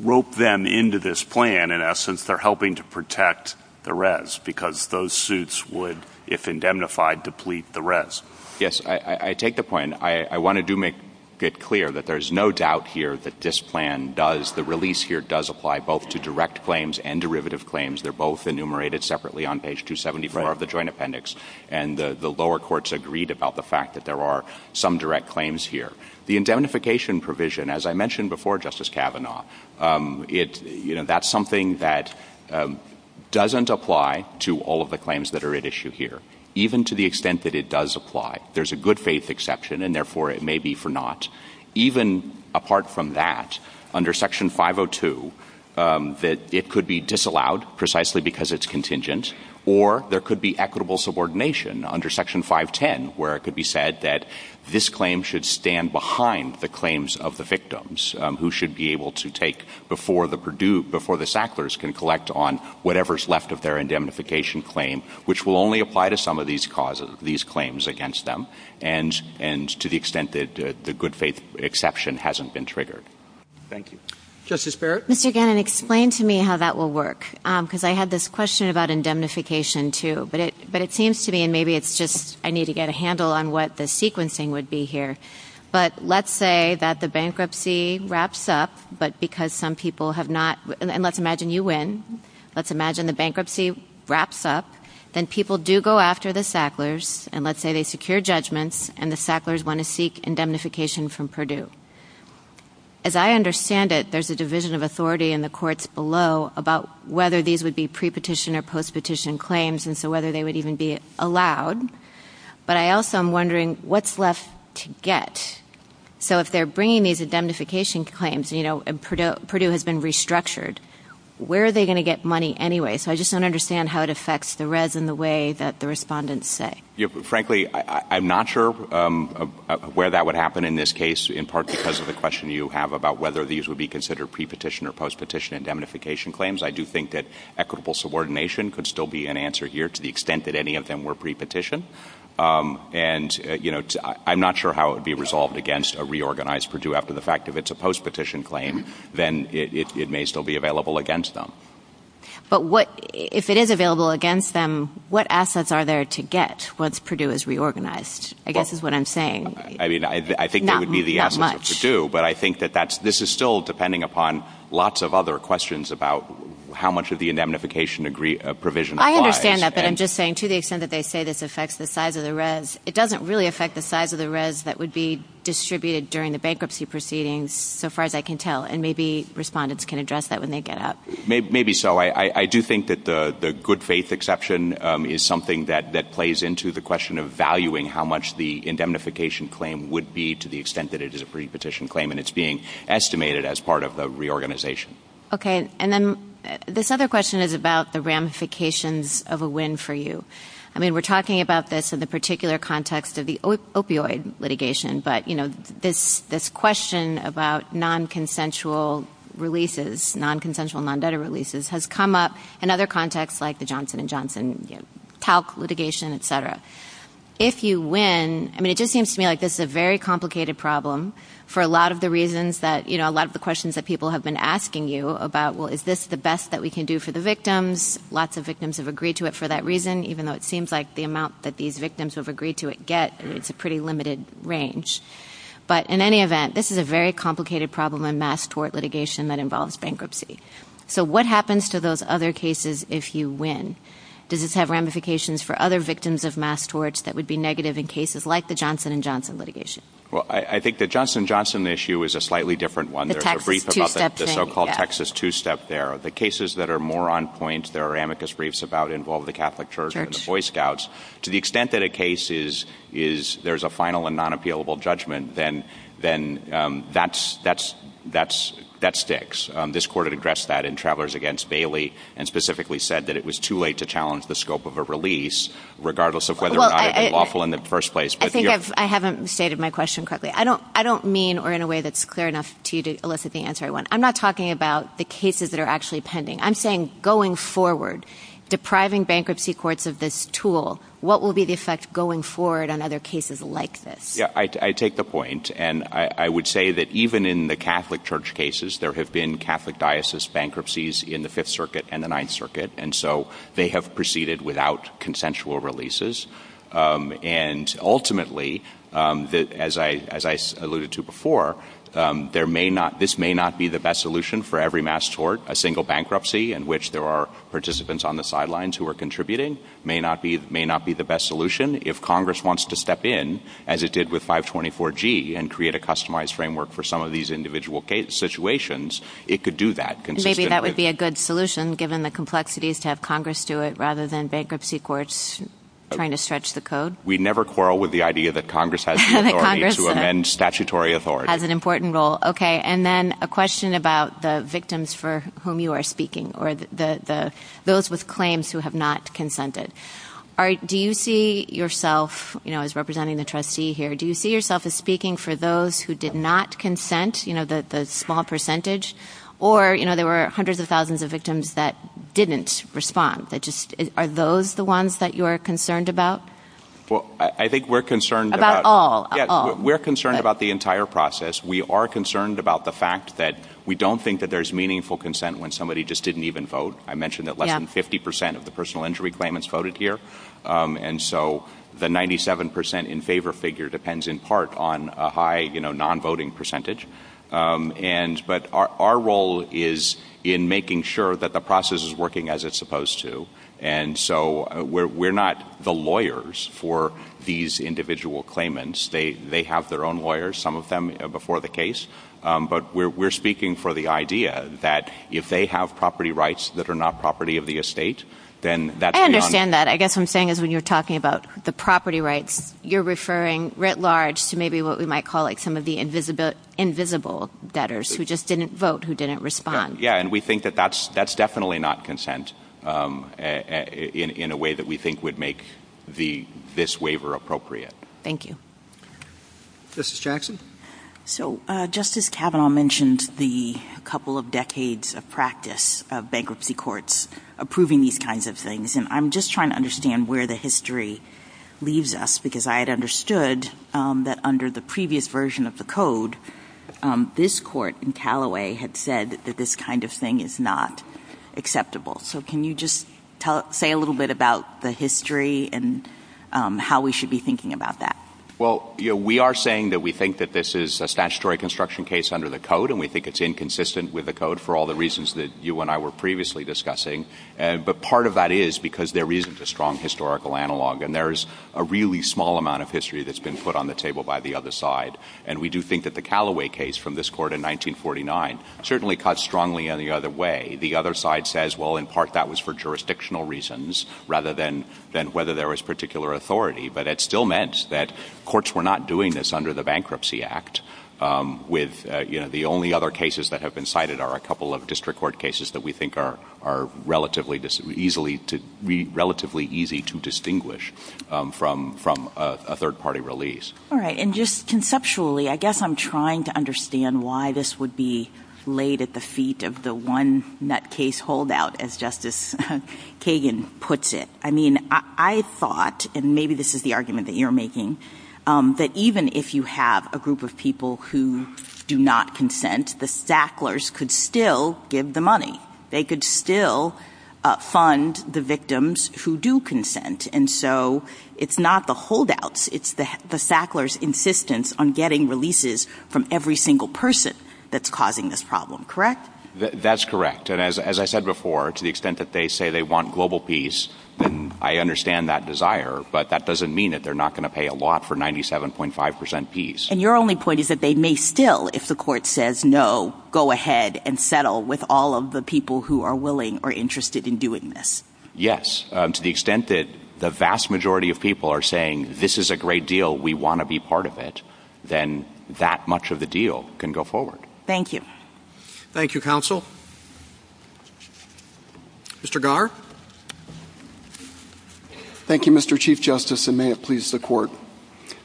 rope them into this plan, in essence, they're helping to protect the res because those suits would, if indemnified, deplete the res. Yes, I take the point. I want to make it clear that there's no doubt here that this plan does – the release here does apply both to direct claims and derivative claims. They're both enumerated separately on page 274 of the joint appendix. And the lower courts agreed about the fact that there are some direct claims here. The indemnification provision, as I mentioned before, Justice Kavanaugh, that's something that doesn't apply to all of the claims that are at issue here, even to the extent that it does apply. There's a good faith exception, and therefore it may be for naught. Even apart from that, under Section 502, it could be disallowed precisely because it's contingent, or there could be equitable subordination under Section 510 where it could be said that this claim should stand behind the claims of the victims, who should be able to take before the Sacklers can collect on whatever's left of their indemnification claim, which will only apply to some of these claims against them, and to the extent that the good faith exception hasn't been triggered. Thank you. Justice Barrett? Mr. Gannon, explain to me how that will work, because I had this question about indemnification, too. But it seems to me – and maybe it's just I need to get a handle on what the sequencing would be here. But let's say that the bankruptcy wraps up, but because some people have not – and let's imagine you win. Let's imagine the bankruptcy wraps up, and people do go after the Sacklers, and let's say they secure judgments, and the Sacklers want to seek indemnification from Purdue. As I understand it, there's a division of authority in the courts below about whether these would be pre-petition or post-petition claims, and so whether they would even be allowed. But I also am wondering, what's left to get? So if they're bringing these indemnification claims, and Purdue has been restructured, where are they going to get money anyway? So I just don't understand how it affects the Reds in the way that the respondents say. Frankly, I'm not sure where that would happen in this case, in part because of the question you have about whether these would be considered pre-petition or post-petition indemnification claims. I do think that equitable subordination could still be an answer here to the extent that any of them were pre-petition. And I'm not sure how it would be resolved against a reorganized Purdue after the fact. If it's a post-petition claim, then it may still be available against them. But if it is available against them, what assets are there to get once Purdue is reorganized? I guess is what I'm saying. I think that would be the answer for Purdue, but I think that this is still depending upon lots of other questions about how much of the indemnification provision applies. I understand that, but I'm just saying to the extent that they say this affects the size of the Reds, it doesn't really affect the size of the Reds that would be distributed during the bankruptcy proceedings, so far as I can tell. And maybe respondents can address that when they get out. Maybe so. I do think that the good faith exception is something that plays into the question of valuing how much the indemnification claim would be to the extent that it is a pre-petition claim and it's being estimated as part of the reorganization. Okay. And then this other question is about the ramifications of a win for you. I mean, we're talking about this in the particular context of the opioid litigation, but this question about non-consensual releases, non-consensual non-debtor releases has come up in other contexts like the Johnson & Johnson litigation, et cetera. If you win, I mean, it just seems to me like this is a very complicated problem for a lot of the reasons that a lot of the questions that people have been asking you about, well, is this the best that we can do for the victims? Lots of victims have agreed to it for that reason, even though it seems like the amount that these victims have agreed to it get, it's a pretty limited range. But in any event, this is a very complicated problem in mass tort litigation that involves bankruptcy. So what happens to those other cases if you win? Does this have ramifications for other victims of mass torts that would be negative in cases like the Johnson & Johnson litigation? Well, I think the Johnson & Johnson issue is a slightly different one. There's a brief about the so-called Texas two-step there. The cases that are more on point, there are amicus briefs about involving the Catholic Church and the Boy Scouts. To the extent that a case is there's a final and non-appealable judgment, then that sticks. This court had addressed that in Travelers Against Bailey and specifically said that it was too late to challenge the scope of a release, regardless of whether or not it was lawful in the first place. I think I haven't stated my question correctly. I don't mean or in a way that's clear enough to you to elicit the answer I want. I'm not talking about the cases that are actually pending. I'm saying going forward, depriving bankruptcy courts of this tool, what will be the effect going forward on other cases like this? Yeah, I take the point. And I would say that even in the Catholic Church cases, there have been Catholic diocese bankruptcies in the Fifth Circuit and the Ninth Circuit. And so they have proceeded without consensual releases. And ultimately, as I alluded to before, this may not be the best solution for every mass tort. A single bankruptcy in which there are participants on the sidelines who are contributing may not be the best solution. If Congress wants to step in, as it did with 524G, and create a customized framework for some of these individual situations, it could do that consistently. So you would say that would be a good solution given the complexities to have Congress do it rather than bankruptcy courts trying to stretch the code? We never quarrel with the idea that Congress has the authority to amend statutory authority. Has an important role. Okay. And then a question about the victims for whom you are speaking or those with claims who have not consented. Do you see yourself, as representing the trustee here, do you see yourself as speaking for those who did not consent, the small percentage? Or, you know, there were hundreds of thousands of victims that didn't respond. Are those the ones that you're concerned about? Well, I think we're concerned. About all. We're concerned about the entire process. We are concerned about the fact that we don't think that there's meaningful consent when somebody just didn't even vote. I mentioned that less than 50% of the personal injury claimants voted here. And so the 97% in favor figure depends in part on a high, you know, non-voting percentage. But our role is in making sure that the process is working as it's supposed to. And so we're not the lawyers for these individual claimants. They have their own lawyers, some of them before the case. But we're speaking for the idea that if they have property rights that are not property of the estate, then that's not. I understand that. I guess what I'm saying is when you're talking about the property rights, you're referring writ large to maybe what we might call like some of the invisible debtors who just didn't vote, who didn't respond. Yeah, and we think that that's definitely not consent in a way that we think would make this waiver appropriate. Thank you. Justice Jackson? So Justice Kavanaugh mentioned the couple of decades of practice of bankruptcy courts approving these kinds of things. And I'm just trying to understand where the history leaves us, because I had understood that under the previous version of the code, this court in Callaway had said that this kind of thing is not acceptable. So can you just say a little bit about the history and how we should be thinking about that? Well, we are saying that we think that this is a statutory construction case under the code, and we think it's inconsistent with the code for all the reasons that you and I were previously discussing. But part of that is because there isn't a strong historical analog, and there is a really small amount of history that's been put on the table by the other side. And we do think that the Callaway case from this court in 1949 certainly cuts strongly in the other way. The other side says, well, in part that was for jurisdictional reasons rather than whether there was particular authority. But it still meant that courts were not doing this under the Bankruptcy Act. The only other cases that have been cited are a couple of district court cases that we think are relatively easy to distinguish from a third-party release. All right. And just conceptually, I guess I'm trying to understand why this would be laid at the feet of the one-net case holdout, as Justice Kagan puts it. I mean, I thought, and maybe this is the argument that you're making, that even if you have a group of people who do not consent, the Sacklers could still give the money. They could still fund the victims who do consent. And so it's not the holdouts. It's the Sacklers' insistence on getting releases from every single person that's causing this problem. Correct? That's correct. And as I said before, to the extent that they say they want global peace, then I understand that desire, but that doesn't mean that they're not going to pay a lot for 97.5 percent peace. And your only point is that they may still, if the court says no, go ahead and settle with all of the people who are willing or interested in doing this. Yes. To the extent that the vast majority of people are saying, this is a great deal, we want to be part of it, then that much of the deal can go forward. Thank you. Thank you, counsel. Mr. Garr? Thank you, Mr. Chief Justice, and may it please the court.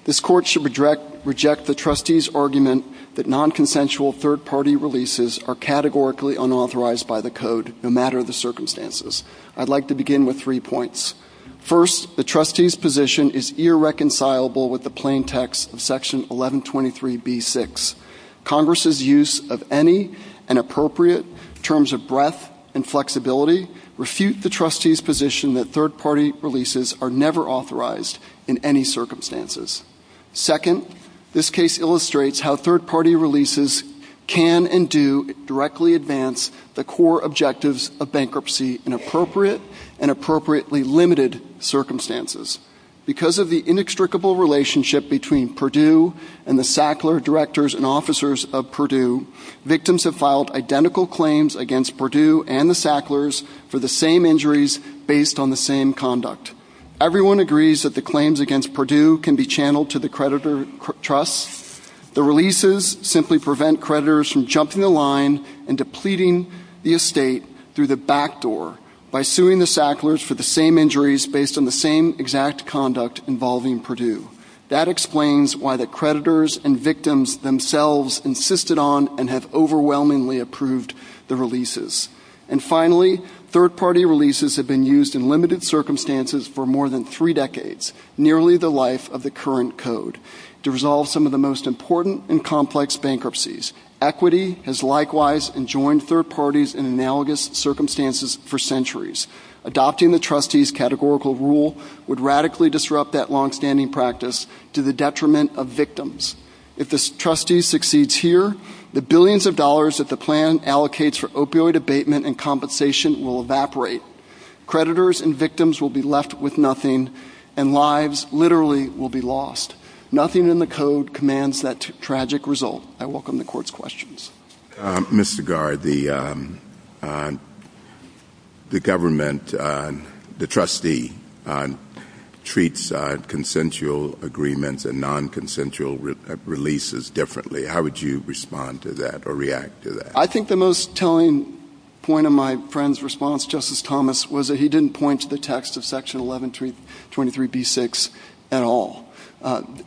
This court should reject the trustee's argument that non-consensual third-party releases are categorically unauthorized by the Code, no matter the circumstances. I'd like to begin with three points. First, the trustee's position is irreconcilable with the plain text of Section 1123b-6. Congress's use of any and appropriate terms of breadth and flexibility refute the trustee's position that third-party releases are never authorized in any circumstances. Second, this case illustrates how third-party releases can and do directly advance the core objectives of bankruptcy in appropriate and appropriately limited circumstances. Because of the inextricable relationship between Purdue and the Sackler directors and officers of Purdue, victims have filed identical claims against Purdue and the Sacklers for the same injuries based on the same conduct. Everyone agrees that the claims against Purdue can be channeled to the creditor trusts. The releases simply prevent creditors from jumping the line and depleting the estate through the back door by suing the Sacklers for the same injuries based on the same exact conduct involving Purdue. That explains why the creditors and victims themselves insisted on and have overwhelmingly approved the releases. And finally, third-party releases have been used in limited circumstances for more than three decades, nearly the life of the current Code, to resolve some of the most important and complex bankruptcies. Equity has likewise enjoined third parties in analogous circumstances for centuries. Adopting the trustee's categorical rule would radically disrupt that long-standing practice to the detriment of victims. If the trustee succeeds here, the billions of dollars that the plan allocates for opioid abatement and compensation will evaporate. Creditors and victims will be left with nothing, and lives literally will be lost. Nothing in the Code commands that tragic result. I welcome the Court's questions. Mr. Garr, the government, the trustee, treats consensual agreements and non-consensual releases differently. How would you respond to that or react to that? I think the most telling point of my friend's response, Justice Thomas, was that he didn't point to the text of Section 1123b-6 at all.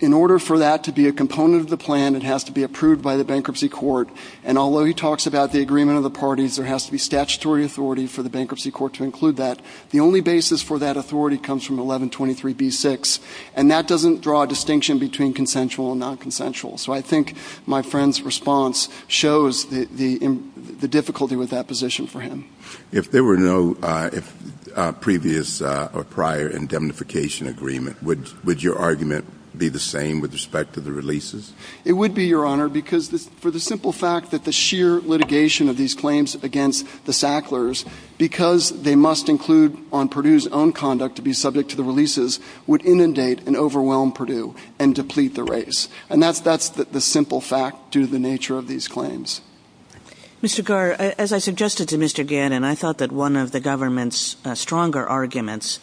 In order for that to be a component of the plan, it has to be approved by the Bankruptcy Court, and although he talks about the agreement of the parties, there has to be statutory authority for the Bankruptcy Court to include that. The only basis for that authority comes from 1123b-6, and that doesn't draw a distinction between consensual and non-consensual. So I think my friend's response shows the difficulty with that position for him. If there were no previous or prior indemnification agreement, would your argument be the same with respect to the releases? It would be, Your Honor, because for the simple fact that the sheer litigation of these claims against the Sacklers, because they must include on Purdue's own conduct to be subject to the releases, would inundate and overwhelm Purdue and deplete the race. And that's the simple fact due to the nature of these claims. Mr. Carr, as I suggested to Mr. Gannon, I thought that one of the government's stronger arguments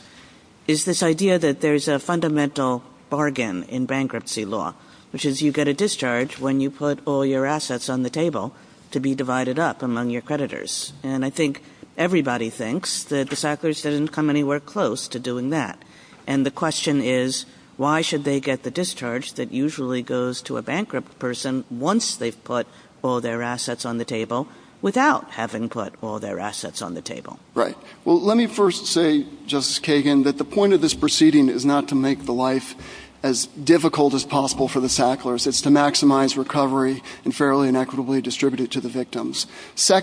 is this idea that there's a fundamental bargain in bankruptcy law, which is you get a discharge when you put all your assets on the table to be divided up among your creditors. And I think everybody thinks that the Sacklers doesn't come anywhere close to doing that. And the question is, why should they get the discharge that usually goes to a bankrupt person once they've put all their assets on the table without having put all their assets on the table? Right. Well, let me first say, Justice Kagan, that the point of this proceeding is not to make the life as difficult as possible for the Sacklers. It's to maximize recovery and fairly and equitably distribute it to the victims. I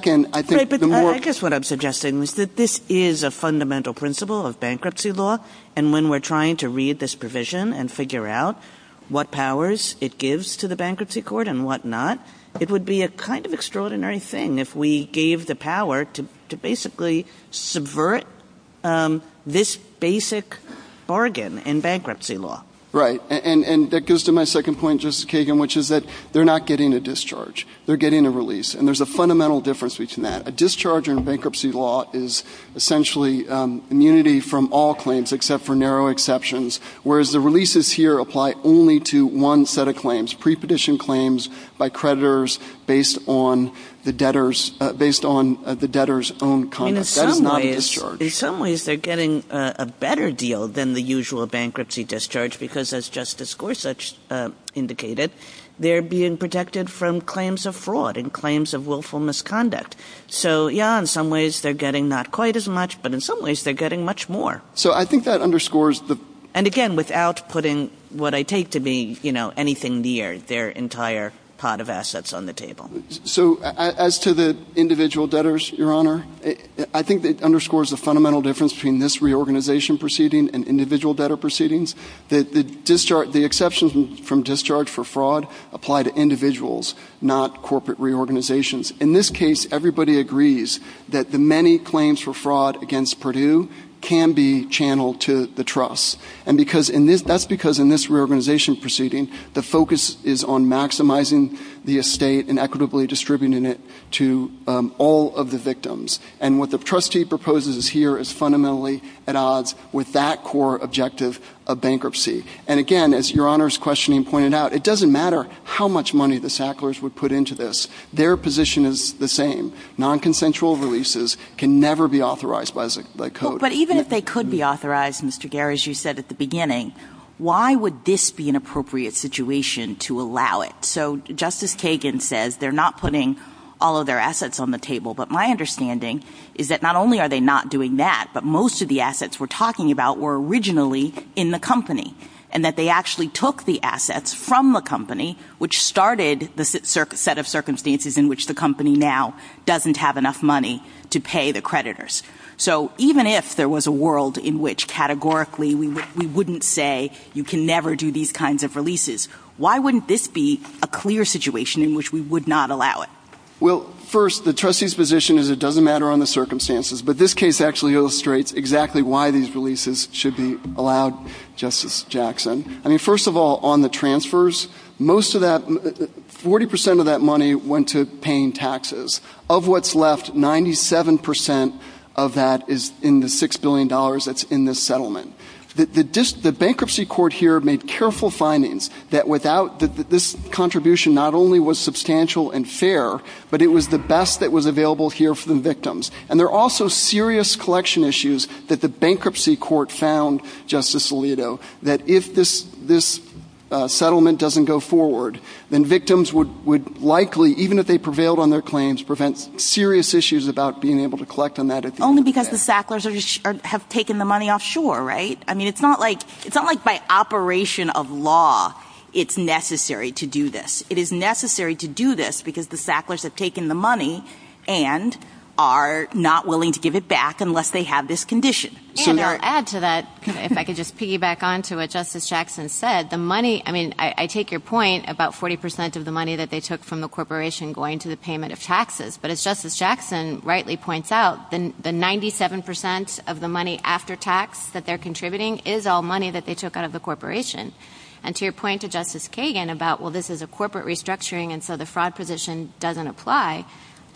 guess what I'm suggesting is that this is a fundamental principle of bankruptcy law. And when we're trying to read this provision and figure out what powers it gives to the bankruptcy court and whatnot, it would be a kind of extraordinary thing if we gave the power to basically subvert this basic bargain in bankruptcy law. Right. And that goes to my second point, Justice Kagan, which is that they're not getting a discharge. They're getting a release. And there's a fundamental difference between that. A discharge in bankruptcy law is essentially immunity from all claims except for narrow exceptions, whereas the releases here apply only to one set of claims, prepetition claims by creditors based on the debtor's own conduct. That is not a discharge. In some ways, they're getting a better deal than the usual bankruptcy discharge because, as Justice Gorsuch indicated, they're being protected from claims of fraud and claims of willful misconduct. So, yeah, in some ways they're getting not quite as much, but in some ways they're getting much more. So I think that underscores the... And again, without putting what I take to be anything near their entire pot of assets on the table. So as to the individual debtors, Your Honor, I think it underscores the fundamental difference between this reorganization proceeding and individual debtor proceedings. The exceptions from discharge for fraud apply to individuals, not corporate reorganizations. In this case, everybody agrees that the many claims for fraud against Purdue can be channeled to the trusts. And that's because in this reorganization proceeding, the focus is on maximizing the estate and equitably distributing it to all of the victims. And what the trustee proposes here is fundamentally at odds with that core objective of bankruptcy. And again, as Your Honor's questioning pointed out, it doesn't matter how much money the Sacklers would put into this. Their position is the same. Nonconsensual releases can never be authorized by code. But even if they could be authorized, Mr. Garris, you said at the beginning, why would this be an appropriate situation to allow it? So Justice Kagan says they're not putting all of their assets on the table. But my understanding is that not only are they not doing that, but most of the assets we're talking about were originally in the company. And that they actually took the assets from the company which started the set of circumstances in which the company now doesn't have enough money to pay the creditors. So even if there was a world in which categorically we wouldn't say you can never do these kinds of releases, why wouldn't this be a clear situation in which we would not allow it? Well, first, the trustee's position is it doesn't matter on the circumstances. But this case actually illustrates exactly why these releases should be allowed, Justice Jackson. I mean, first of all, on the transfers, most of that, 40% of that money went to paying taxes. Of what's left, 97% of that is in the $6 billion that's in this settlement. The bankruptcy court here made careful findings that this contribution not only was substantial and fair, but it was the best that was available here for the victims. And there are also serious collection issues that the bankruptcy court found, Justice Alito, that if this settlement doesn't go forward, then victims would likely, even if they prevailed on their claims, prevent serious issues about being able to collect on that. It's only because the Sacklers have taken the money offshore, right? I mean, it's not like by operation of law it's necessary to do this. It is necessary to do this because the Sacklers have taken the money and are not willing to give it back unless they have this condition. And I'll add to that, if I could just piggyback on to what Justice Jackson said, the money, I mean, I take your point about 40% of the money that they took from the corporation going to the payment of taxes. But as Justice Jackson rightly points out, the 97% of the money after tax that they're contributing is all money that they took out of the corporation. And to your point to Justice Kagan about, well, this is a corporate restructuring, and so the fraud position doesn't apply, I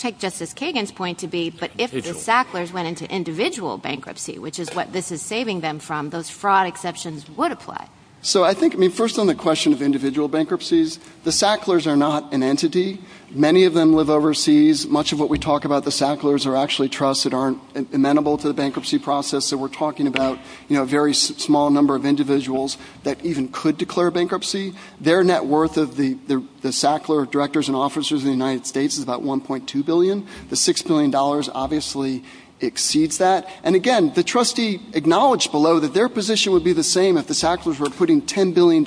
take Justice Kagan's point to be, but if the Sacklers went into individual bankruptcy, which is what this is saving them from, those fraud exceptions would apply. So I think, I mean, first on the question of individual bankruptcies, the Sacklers are not an entity. Many of them live overseas. Much of what we talk about the Sacklers are actually trusts that aren't amenable to the bankruptcy process. So we're talking about, you know, a very small number of individuals that even could declare bankruptcy. Their net worth of the Sackler directors and officers in the United States is about $1.2 billion. The $6 billion obviously exceeds that. And, again, the trustee acknowledged below that their position would be the same if the Sacklers were putting $10 billion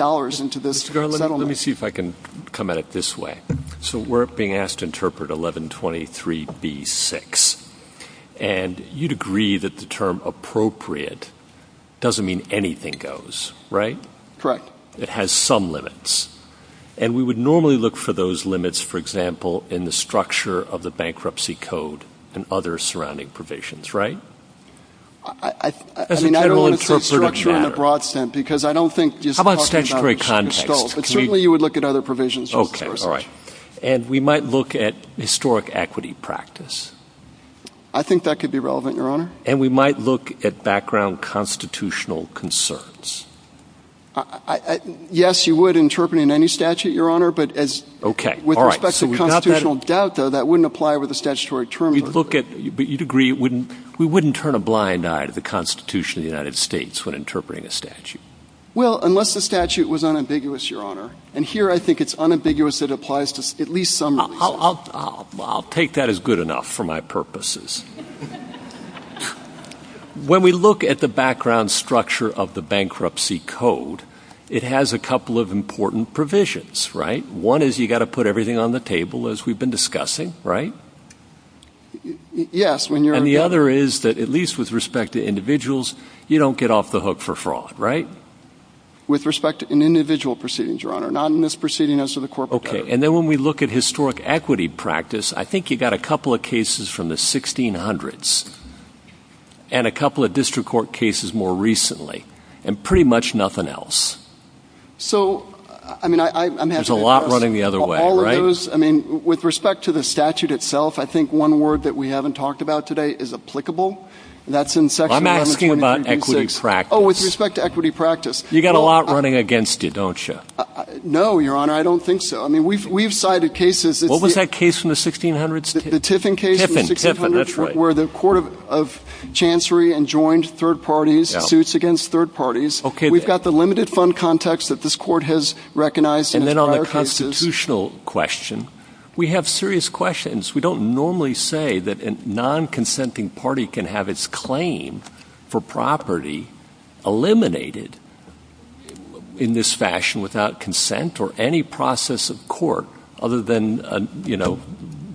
into this settlement. Let me see if I can come at it this way. So we're being asked to interpret 1123b-6. And you'd agree that the term appropriate doesn't mean anything goes, right? Correct. It has some limits. And we would normally look for those limits, for example, in the structure of the bankruptcy code and other surrounding provisions, right? I mean, I don't want to put structure in the broad sense because I don't think just talking about installs. Well, certainly you would look at other provisions. Okay, all right. And we might look at historic equity practice. I think that could be relevant, Your Honor. And we might look at background constitutional concerns. Yes, you would interpret it in any statute, Your Honor, but with respect to constitutional doubt, though, that wouldn't apply with a statutory term. But you'd agree we wouldn't turn a blind eye to the Constitution of the United States when interpreting a statute. Well, unless the statute was unambiguous, Your Honor. And here I think it's unambiguous it applies to at least some. I'll take that as good enough for my purposes. When we look at the background structure of the bankruptcy code, it has a couple of important provisions, right? One is you've got to put everything on the table, as we've been discussing, right? Yes. And the other is that at least with respect to individuals, you don't get off the hook for fraud, right? With respect to individual proceedings, Your Honor, not in this proceeding as to the corporate case. Okay. And then when we look at historic equity practice, I think you've got a couple of cases from the 1600s and a couple of district court cases more recently, and pretty much nothing else. So, I mean, I'm asking about all of those. There's a lot running the other way, right? I mean, with respect to the statute itself, I think one word that we haven't talked about today is applicable. That's in section 226. Well, I'm asking about equity practice. Oh, with respect to equity practice. You've got a lot running against you, don't you? No, Your Honor, I don't think so. I mean, we've cited cases. What was that case from the 1600s? The Tiffin case. Tiffin, Tiffin, that's right. Where the court of chancery enjoined third parties, suits against third parties. Okay. We've got the limited fund context that this court has recognized. And then on the constitutional question, we have serious questions. We don't normally say that a non-consenting party can have its claim for property eliminated in this fashion without consent or any process of court other than, you know,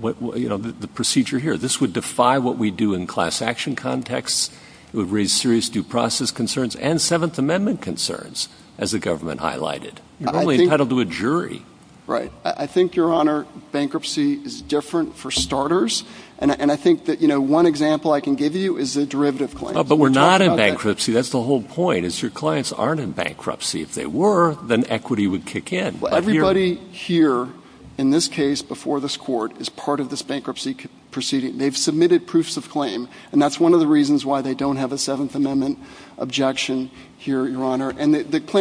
the procedure here. This would defy what we do in class action contexts. It would raise serious due process concerns and Seventh Amendment concerns, as the government highlighted. You're normally entitled to a jury. Right. I think, Your Honor, bankruptcy is different for starters. And I think that, you know, one example I can give you is a derivative claim. But we're not in bankruptcy. That's the whole point is your clients aren't in bankruptcy. If they were, then equity would kick in. Everybody here in this case before this court is part of this bankruptcy proceeding. They've submitted proofs of claim. And that's one of the reasons why they don't have a Seventh Amendment objection here, Your Honor. With respect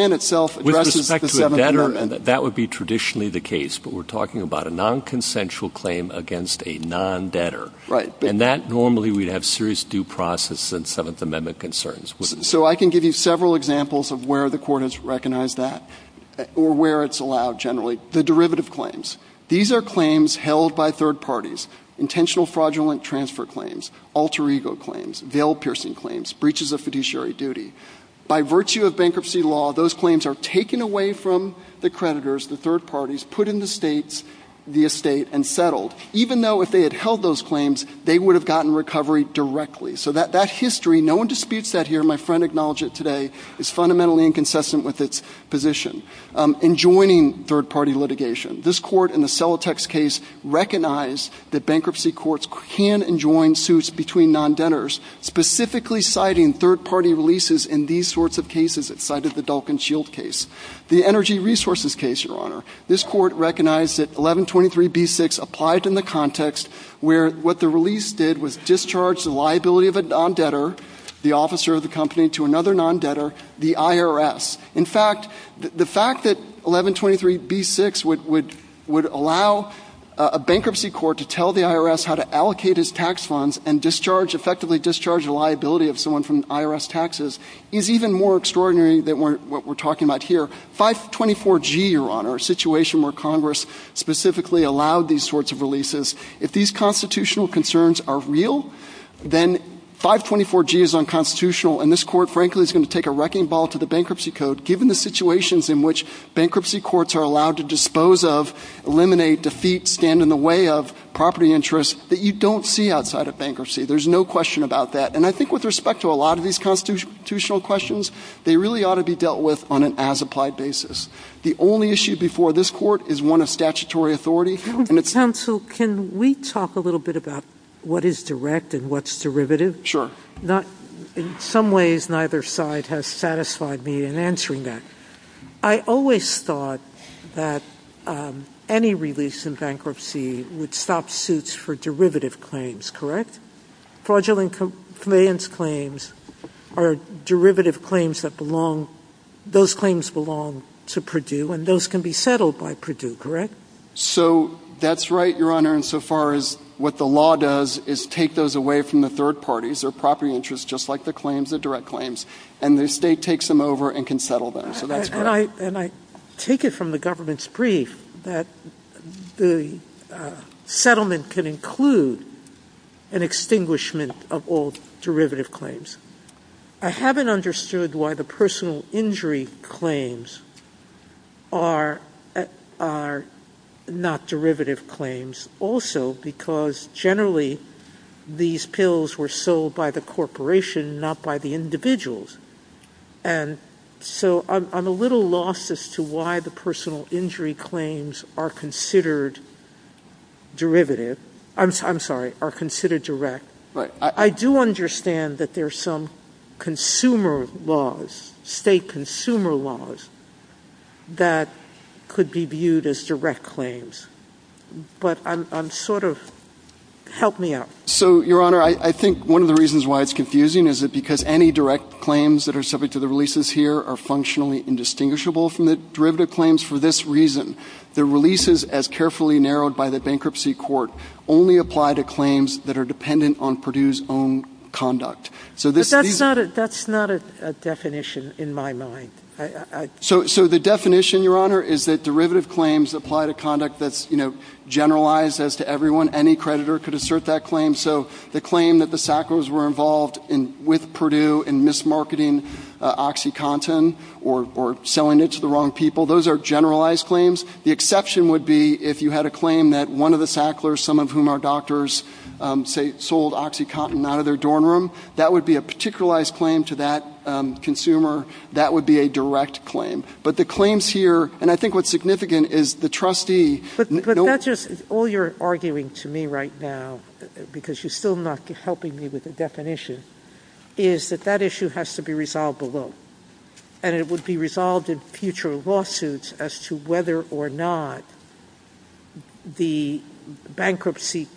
to a debtor, that would be traditionally the case. But we're talking about a non-consensual claim against a non-debtor. Right. And that normally would have serious due process and Seventh Amendment concerns. So I can give you several examples of where the court has recognized that or where it's allowed generally. The derivative claims. These are claims held by third parties, intentional fraudulent transfer claims, alter ego claims, veil-piercing claims, breaches of fiduciary duty. By virtue of bankruptcy law, those claims are taken away from the creditors, the third parties, put in the states, the estate, and settled. Even though if they had held those claims, they would have gotten recovery directly. So that history, no one disputes that here. My friend acknowledged it today. It's fundamentally inconsistent with its position. And joining third-party litigation. This court in the Celotex case recognized that bankruptcy courts can and join suits between non-debtors, specifically citing third-party releases in these sorts of cases that cited the Dulcan Shield case. The energy resources case, Your Honor. This court recognized that 1123b-6 applied in the context where what the release did was discharge the liability of a non-debtor, the officer of the company, to another non-debtor, the IRS. In fact, the fact that 1123b-6 would allow a bankruptcy court to tell the IRS how to allocate his tax funds and discharge, effectively discharge the liability of someone from IRS taxes, is even more extraordinary than what we're talking about here. 524g, Your Honor, a situation where Congress specifically allowed these sorts of releases. If these constitutional concerns are real, then 524g is unconstitutional, and this court, frankly, is going to take a wrecking ball to the bankruptcy code, given the situations in which bankruptcy courts are allowed to dispose of, eliminate, defeat, stand in the way of property interests that you don't see outside of bankruptcy. There's no question about that. And I think with respect to a lot of these constitutional questions, they really ought to be dealt with on an as-applied basis. The only issue before this court is one of statutory authority. Counsel, can we talk a little bit about what is direct and what's derivative? Sure. In some ways, neither side has satisfied me in answering that. I always thought that any release in bankruptcy would stop suits for derivative claims, correct? Fraudulent compliance claims are derivative claims that belong, those claims belong to Purdue, and those can be settled by Purdue, correct? So that's right, Your Honor, insofar as what the law does is take those away from the third parties, their property interests, just like the claims, the direct claims, and the state takes them over and can settle them. And I take it from the government's brief that the settlement can include an extinguishment of all derivative claims. I haven't understood why the personal injury claims are not derivative claims also, because generally these pills were sold by the corporation, not by the individuals. And so I'm a little lost as to why the personal injury claims are considered derivative. I'm sorry, are considered direct. I do understand that there are some consumer laws, state consumer laws, that could be viewed as direct claims. But I'm sort of, help me out. So, Your Honor, I think one of the reasons why it's confusing is because any direct claims that are subject to the releases here are functionally indistinguishable from the derivative claims. For this reason, the releases, as carefully narrowed by the bankruptcy court, only apply to claims that are dependent on Purdue's own conduct. But that's not a definition in my mind. So the definition, Your Honor, is that derivative claims apply to conduct that's generalized as to everyone. Any creditor could assert that claim. So the claim that the Sacklers were involved with Purdue in mismarketing OxyContin or selling it to the wrong people, those are generalized claims. The exception would be if you had a claim that one of the Sacklers, some of whom are doctors, sold OxyContin out of their dorm room. That would be a particularized claim to that consumer. That would be a direct claim. But the claims here, and I think what's significant is the trustee. All you're arguing to me right now, because you're still not helping me with the definition, is that that issue has to be resolved below. And it would be resolved in future lawsuits as to whether or not the bankruptcy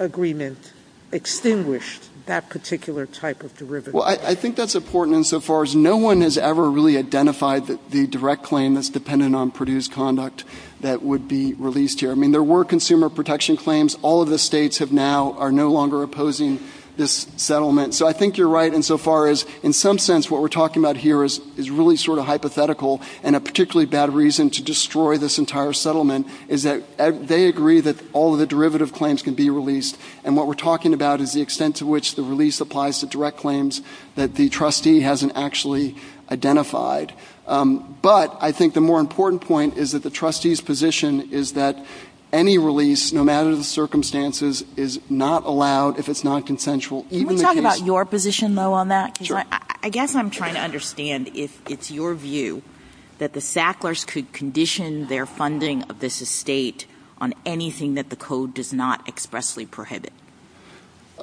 agreement extinguished that particular type of derivative. Well, I think that's important insofar as no one has ever really identified the direct claim that's dependent on Purdue's conduct that would be released here. I mean, there were consumer protection claims. All of the states now are no longer opposing this settlement. So I think you're right insofar as in some sense what we're talking about here is really sort of hypothetical, and a particularly bad reason to destroy this entire settlement is that they agree that all of the derivative claims can be released. And what we're talking about is the extent to which the release applies to direct claims that the trustee hasn't actually identified. But I think the more important point is that the trustee's position is that any release, no matter the circumstances, is not allowed if it's not consensual. Can we talk about your position, though, on that? Sure. I guess I'm trying to understand if it's your view that the Sacklers could condition their funding of this estate on anything that the code does not expressly prohibit.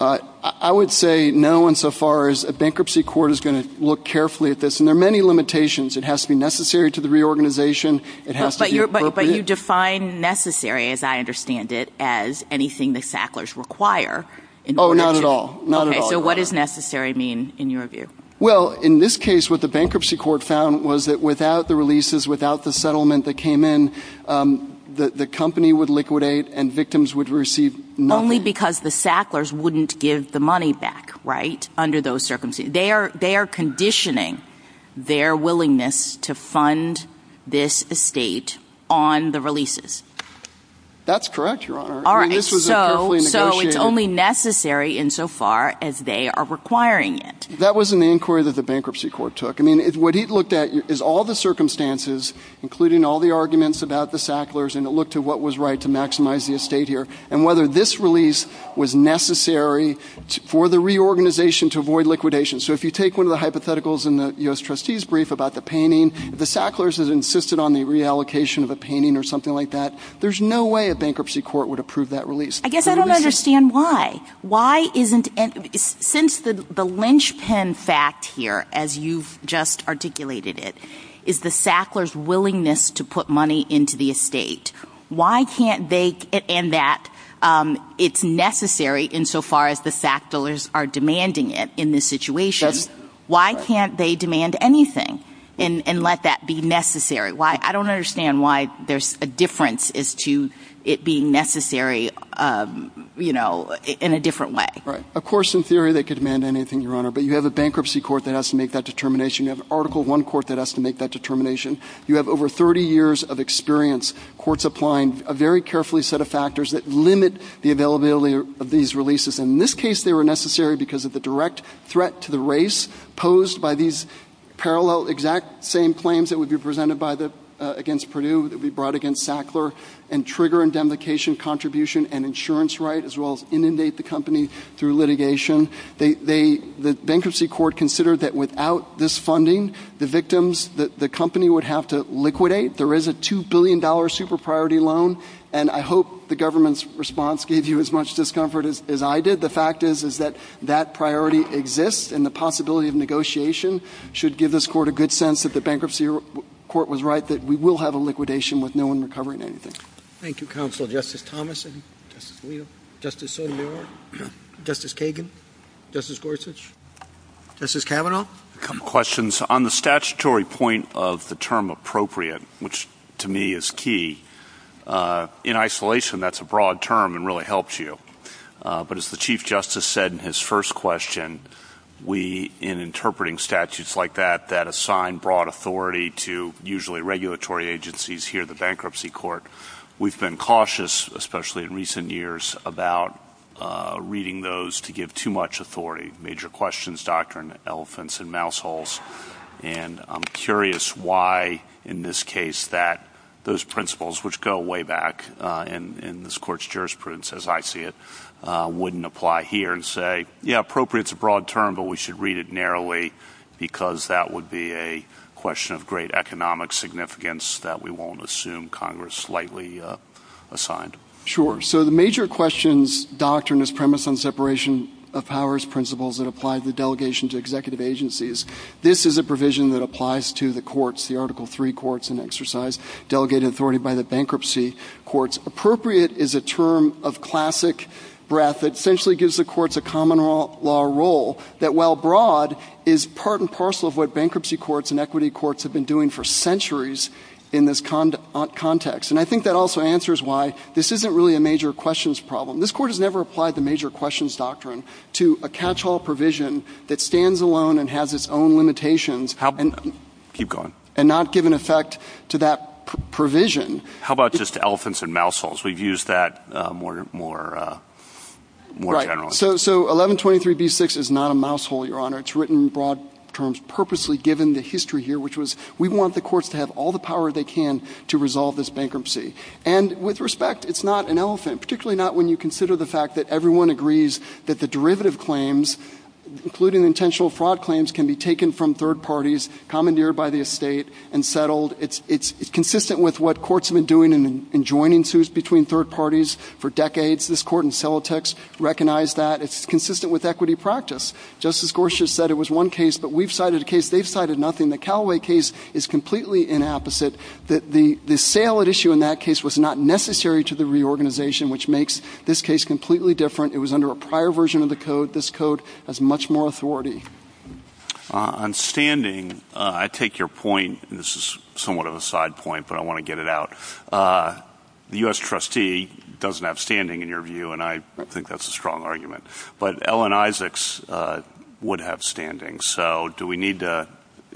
I would say no insofar as a bankruptcy court is going to look carefully at this, and there are many limitations. It has to be necessary to the reorganization. But you define necessary, as I understand it, as anything the Sacklers require. Oh, not at all. Not at all. So what does necessary mean in your view? Well, in this case, what the bankruptcy court found was that without the releases, without the settlement that came in, the company would liquidate and victims would receive money. Only because the Sacklers wouldn't give the money back, right, under those circumstances. They are conditioning their willingness to fund this estate on the releases. That's correct, Your Honor. So it's only necessary insofar as they are requiring it. That was an inquiry that the bankruptcy court took. I mean, what he looked at is all the circumstances, including all the arguments about the Sacklers, and it looked at what was right to maximize the estate here, and whether this release was necessary for the reorganization to avoid liquidation. So if you take one of the hypotheticals in the U.S. trustee's brief about the painting, if the Sacklers has insisted on the reallocation of a painting or something like that, there's no way a bankruptcy court would approve that release. I guess I don't understand why. Why isn't – since the lynchpin fact here, as you've just articulated it, is the Sacklers' willingness to put money into the estate, why can't they – and that it's necessary insofar as the Sacklers are demanding it in this situation. Why can't they demand anything and let that be necessary? I don't understand why there's a difference as to it being necessary in a different way. Right. Of course, in theory, they could demand anything, Your Honor, but you have a bankruptcy court that has to make that determination. You have an Article I court that has to make that determination. You have over 30 years of experience, courts applying a very carefully set of factors that limit the availability of these releases. In this case, they were necessary because of the direct threat to the race posed by these parallel exact same claims that would be presented by the – against Purdue that would be brought against Sackler and trigger indemnification contribution and insurance right as well as inundate the company through litigation. They – the bankruptcy court considered that without this funding, the victims – the company would have to liquidate. There is a $2 billion super-priority loan, and I hope the government's response gave you as much discomfort as I did. The fact is, is that that priority exists and the possibility of negotiation should give this court a good sense that the bankruptcy court was right that we will have a liquidation with no one recovering anything. Thank you, Counselor. Justice Thomason? Justice Neal? Justice Sotomayor? Justice Kagan? Justice Gorsuch? Justice Kavanaugh? A couple questions. On the statutory point of the term appropriate, which to me is key, in isolation, that's a broad term and really helps you. But as the Chief Justice said in his first question, we, in interpreting statutes like that, that assign broad authority to usually regulatory agencies here at the bankruptcy court, we've been cautious, especially in recent years, about reading those to give too much authority. Major questions, doctrine, elephants and mouse holes. And I'm curious why, in this case, that those principles, which go way back in this court's jurisprudence, as I see it, wouldn't apply here and say, yeah, appropriate's a broad term, but we should read it narrowly because that would be a question of great economic significance that we won't assume Congress slightly assigned. Sure. So the major questions, doctrines, premise on separation of powers, principles that apply to delegations, executive agencies, this is a provision that applies to the courts, the Article III courts in exercise, delegating authority by the bankruptcy courts. Appropriate is a term of classic breadth that essentially gives the courts a common law role that, while broad, is part and parcel of what bankruptcy courts and equity courts have been doing for centuries in this context. And I think that also answers why this isn't really a major questions problem. This court has never applied the major questions doctrine to a catch-all provision that stands alone and has its own limitations. Keep going. And not give an effect to that provision. How about just elephants and mouse holes? We've used that more generally. Right. So 1123b6 is not a mouse hole, Your Honor. It's written in broad terms purposely given the history here, which was we want the courts to have all the power they can to resolve this bankruptcy. And with respect, it's not an elephant, particularly not when you consider the fact that everyone agrees that the derivative claims, including intentional fraud claims, can be taken from third parties, commandeered by the estate, and settled. It's consistent with what courts have been doing in joining suits between third parties for decades. This court in Celotex recognized that. It's consistent with equity practice. Justice Gorsuch said it was one case, but we've cited a case they've cited nothing. The Callaway case is completely inapposite. The sale at issue in that case was not necessary to the reorganization, which makes this case completely different. It was under a prior version of the code. This code has much more authority. On standing, I take your point, and this is somewhat of a side point, but I want to get it out. The U.S. trustee doesn't have standing, in your view, and I think that's a strong argument. But Ellen Isaacs would have standing. So do we need to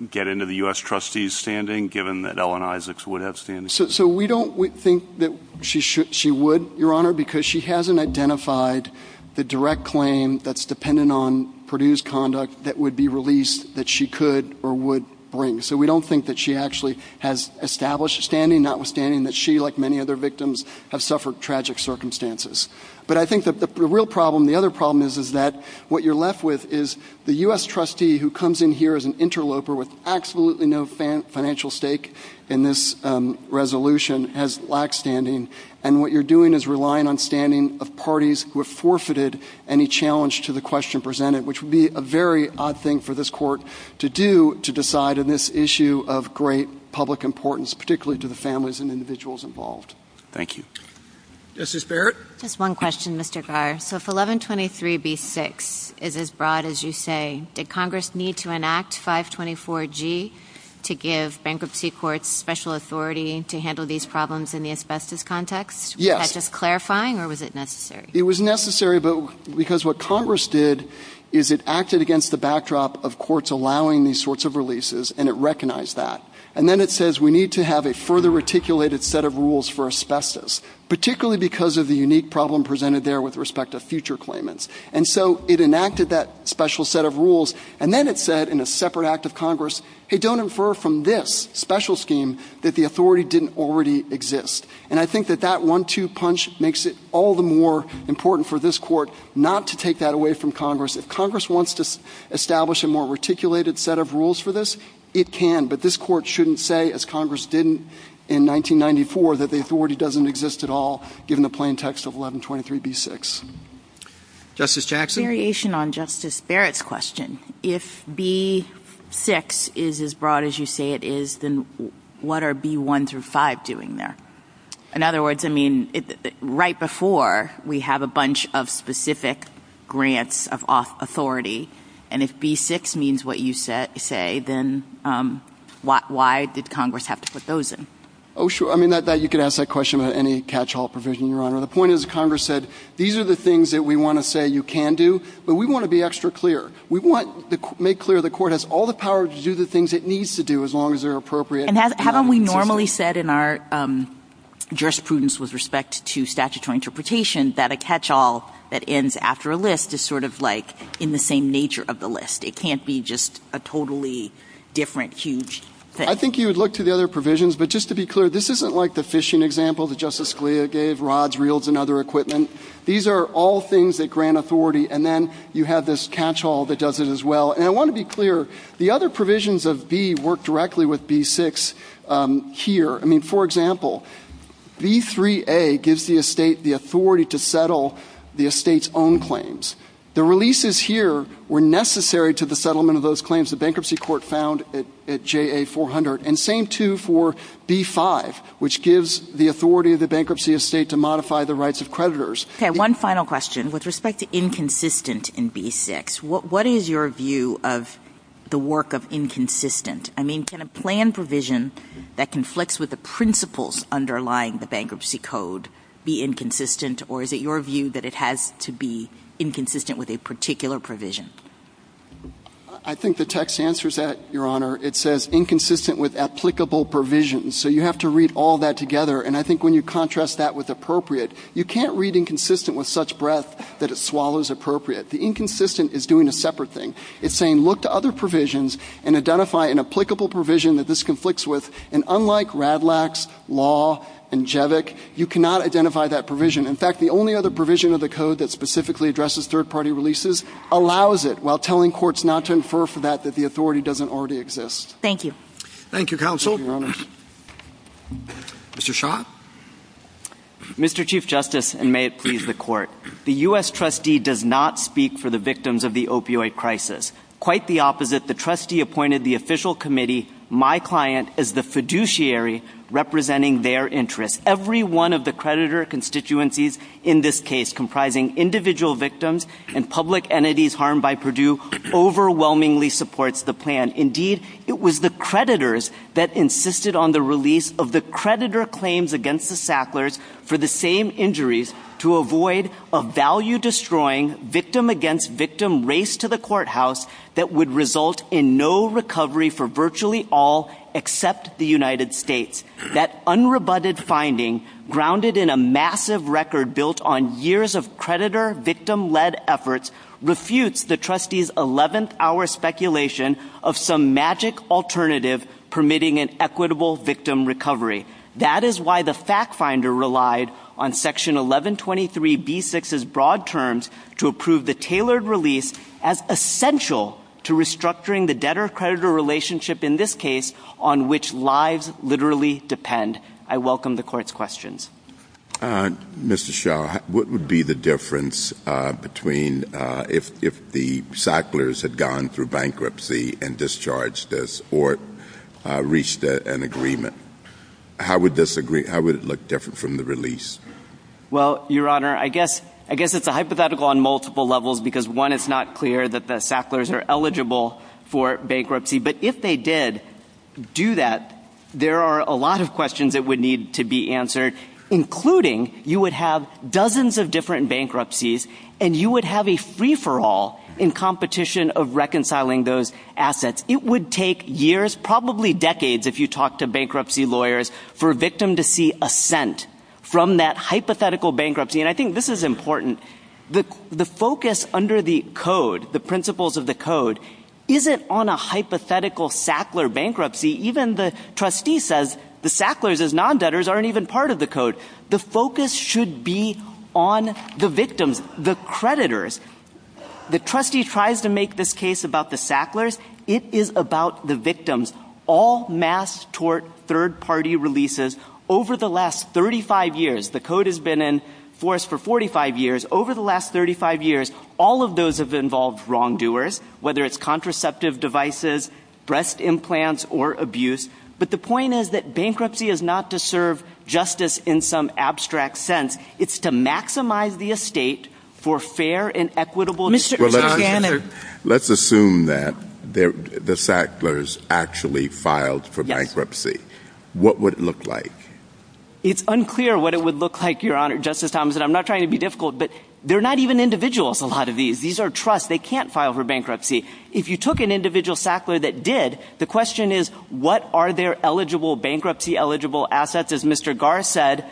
get into the U.S. trustee's standing, given that Ellen Isaacs would have standing? So we don't think that she would, Your Honor, because she hasn't identified the direct claim that's dependent on Perdue's conduct that would be released that she could or would bring. So we don't think that she actually has established standing, notwithstanding that she, like many other victims, has suffered tragic circumstances. But I think the real problem, the other problem, is that what you're left with is the U.S. trustee who comes in here as an interloper with absolutely no financial stake in this resolution has lack standing, and what you're doing is relying on standing of parties who have forfeited any challenge to the question presented, which would be a very odd thing for this Court to do to decide on this issue of great public importance, particularly to the families and individuals involved. Thank you. Justice Barrett? Just one question, Mr. Garr. So if 1123B6 is as broad as you say, did Congress need to enact 524G to give bankruptcy courts special authority to handle these problems in the asbestos context? Yes. Is that just clarifying, or was it necessary? It was necessary because what Congress did is it acted against the backdrop of courts allowing these sorts of releases, and it recognized that. And then it says we need to have a further reticulated set of rules for asbestos, particularly because of the unique problem presented there with respect to future claimants. And so it enacted that special set of rules, and then it said in a separate act of Congress, hey, don't infer from this special scheme that the authority didn't already exist. And I think that that one-two punch makes it all the more important for this Court not to take that away from Congress. If Congress wants to establish a more reticulated set of rules for this, it can, but this Court shouldn't say, as Congress didn't in 1994, that the authority doesn't exist at all, given the plain text of 1123B6. Justice Jackson? A variation on Justice Barrett's question. If B6 is as broad as you say it is, then what are B1 through 5 doing there? In other words, I mean, right before, we have a bunch of specific grants of authority, and if B6 means what you say, then why did Congress have to put those in? Oh, sure. I mean, you could ask that question about any catch-all provision, Your Honor. The point is Congress said, these are the things that we want to say you can do, but we want to be extra clear. We want to make clear the Court has all the power to do the things it needs to do as long as they're appropriate. And haven't we normally said in our jurisprudence with respect to statutory interpretation that a catch-all that ends after a list is sort of like in the same nature of the list? It can't be just a totally different, huge thing. I think you would look to the other provisions, but just to be clear, this isn't like the fishing example that Justice Scalia gave, rods, reels, and other equipment. These are all things that grant authority, and then you have this catch-all that does it as well. And I want to be clear, the other provisions of B work directly with B6 here. I mean, for example, B3A gives the estate the authority to settle the estate's own claims. The releases here were necessary to the settlement of those claims the bankruptcy court found at JA400, and same too for B5, which gives the authority of the bankruptcy estate to modify the rights of creditors. Okay, one final question. With respect to inconsistent in B6, what is your view of the work of inconsistent? I mean, can a plan provision that conflicts with the principles underlying the bankruptcy code be inconsistent, or is it your view that it has to be inconsistent with a particular provision? I think the text answers that, Your Honor. It says inconsistent with applicable provisions, so you have to read all that together, and I think when you contrast that with appropriate, you can't read inconsistent with such breadth that it swallows appropriate. The inconsistent is doing a separate thing. It's saying look to other provisions and identify an applicable provision that this conflicts with, and unlike RADLAX, law, and JEVIC, you cannot identify that provision. In fact, the only other provision of the code that specifically addresses third-party releases allows it while telling courts not to infer from that that the authority doesn't already exist. Thank you. Thank you, counsel. Mr. Shaw. Mr. Chief Justice, and may it please the Court, the U.S. trustee does not speak for the victims of the opioid crisis. Quite the opposite. The trustee appointed the official committee, my client, as the fiduciary representing their interests. Every one of the creditor constituencies in this case comprising individual victims and public entities harmed by Purdue overwhelmingly supports the plan. Indeed, it was the creditors that insisted on the release of the creditor claims against the Sacklers for the same injuries to avoid a value-destroying victim-against-victim race to the courthouse that would result in no recovery for virtually all except the United States. That unrebutted finding, grounded in a massive record built on years of creditor-victim-led efforts, refutes the trustee's 11th-hour speculation of some magic alternative permitting an equitable victim recovery. That is why the fact finder relied on Section 1123b6's broad terms to approve the tailored release as essential to restructuring the debtor-creditor relationship in this case on which lives literally depend. I welcome the Court's questions. Mr. Shaw, what would be the difference between if the Sacklers had gone through bankruptcy and discharged this, or reached an agreement? How would it look different from the release? Well, Your Honor, I guess it's a hypothetical on multiple levels, because one, it's not clear that the Sacklers are eligible for bankruptcy. But if they did do that, there are a lot of questions that would need to be answered, including you would have dozens of different bankruptcies, and you would have a free-for-all in competition of reconciling those assets. It would take years, probably decades, if you talk to bankruptcy lawyers, for a victim to see assent from that hypothetical bankruptcy. And I think this is important. The focus under the Code, the principles of the Code, isn't on a hypothetical Sackler bankruptcy. Even the trustee says the Sacklers, as non-debtors, aren't even part of the Code. The focus should be on the victims, the creditors. The trustee tries to make this case about the Sacklers. It is about the victims. All mass tort third-party releases over the last 35 years, the Code has been in force for 45 years, over the last 35 years, all of those have involved wrongdoers, whether it's contraceptive devices, breast implants, or abuse. But the point is that bankruptcy is not to serve justice in some abstract sense. It's to maximize the estate for fair and equitable... Mr. Gannon... Let's assume that the Sacklers actually filed for bankruptcy. What would it look like? It's unclear what it would look like, Your Honor, Justice Thomson. I'm not trying to be difficult, but they're not even individuals, a lot of these. These are trusts. They can't file for bankruptcy. If you took an individual Sackler that did, the question is, what are their eligible bankruptcy-eligible assets? As Mr. Garr said,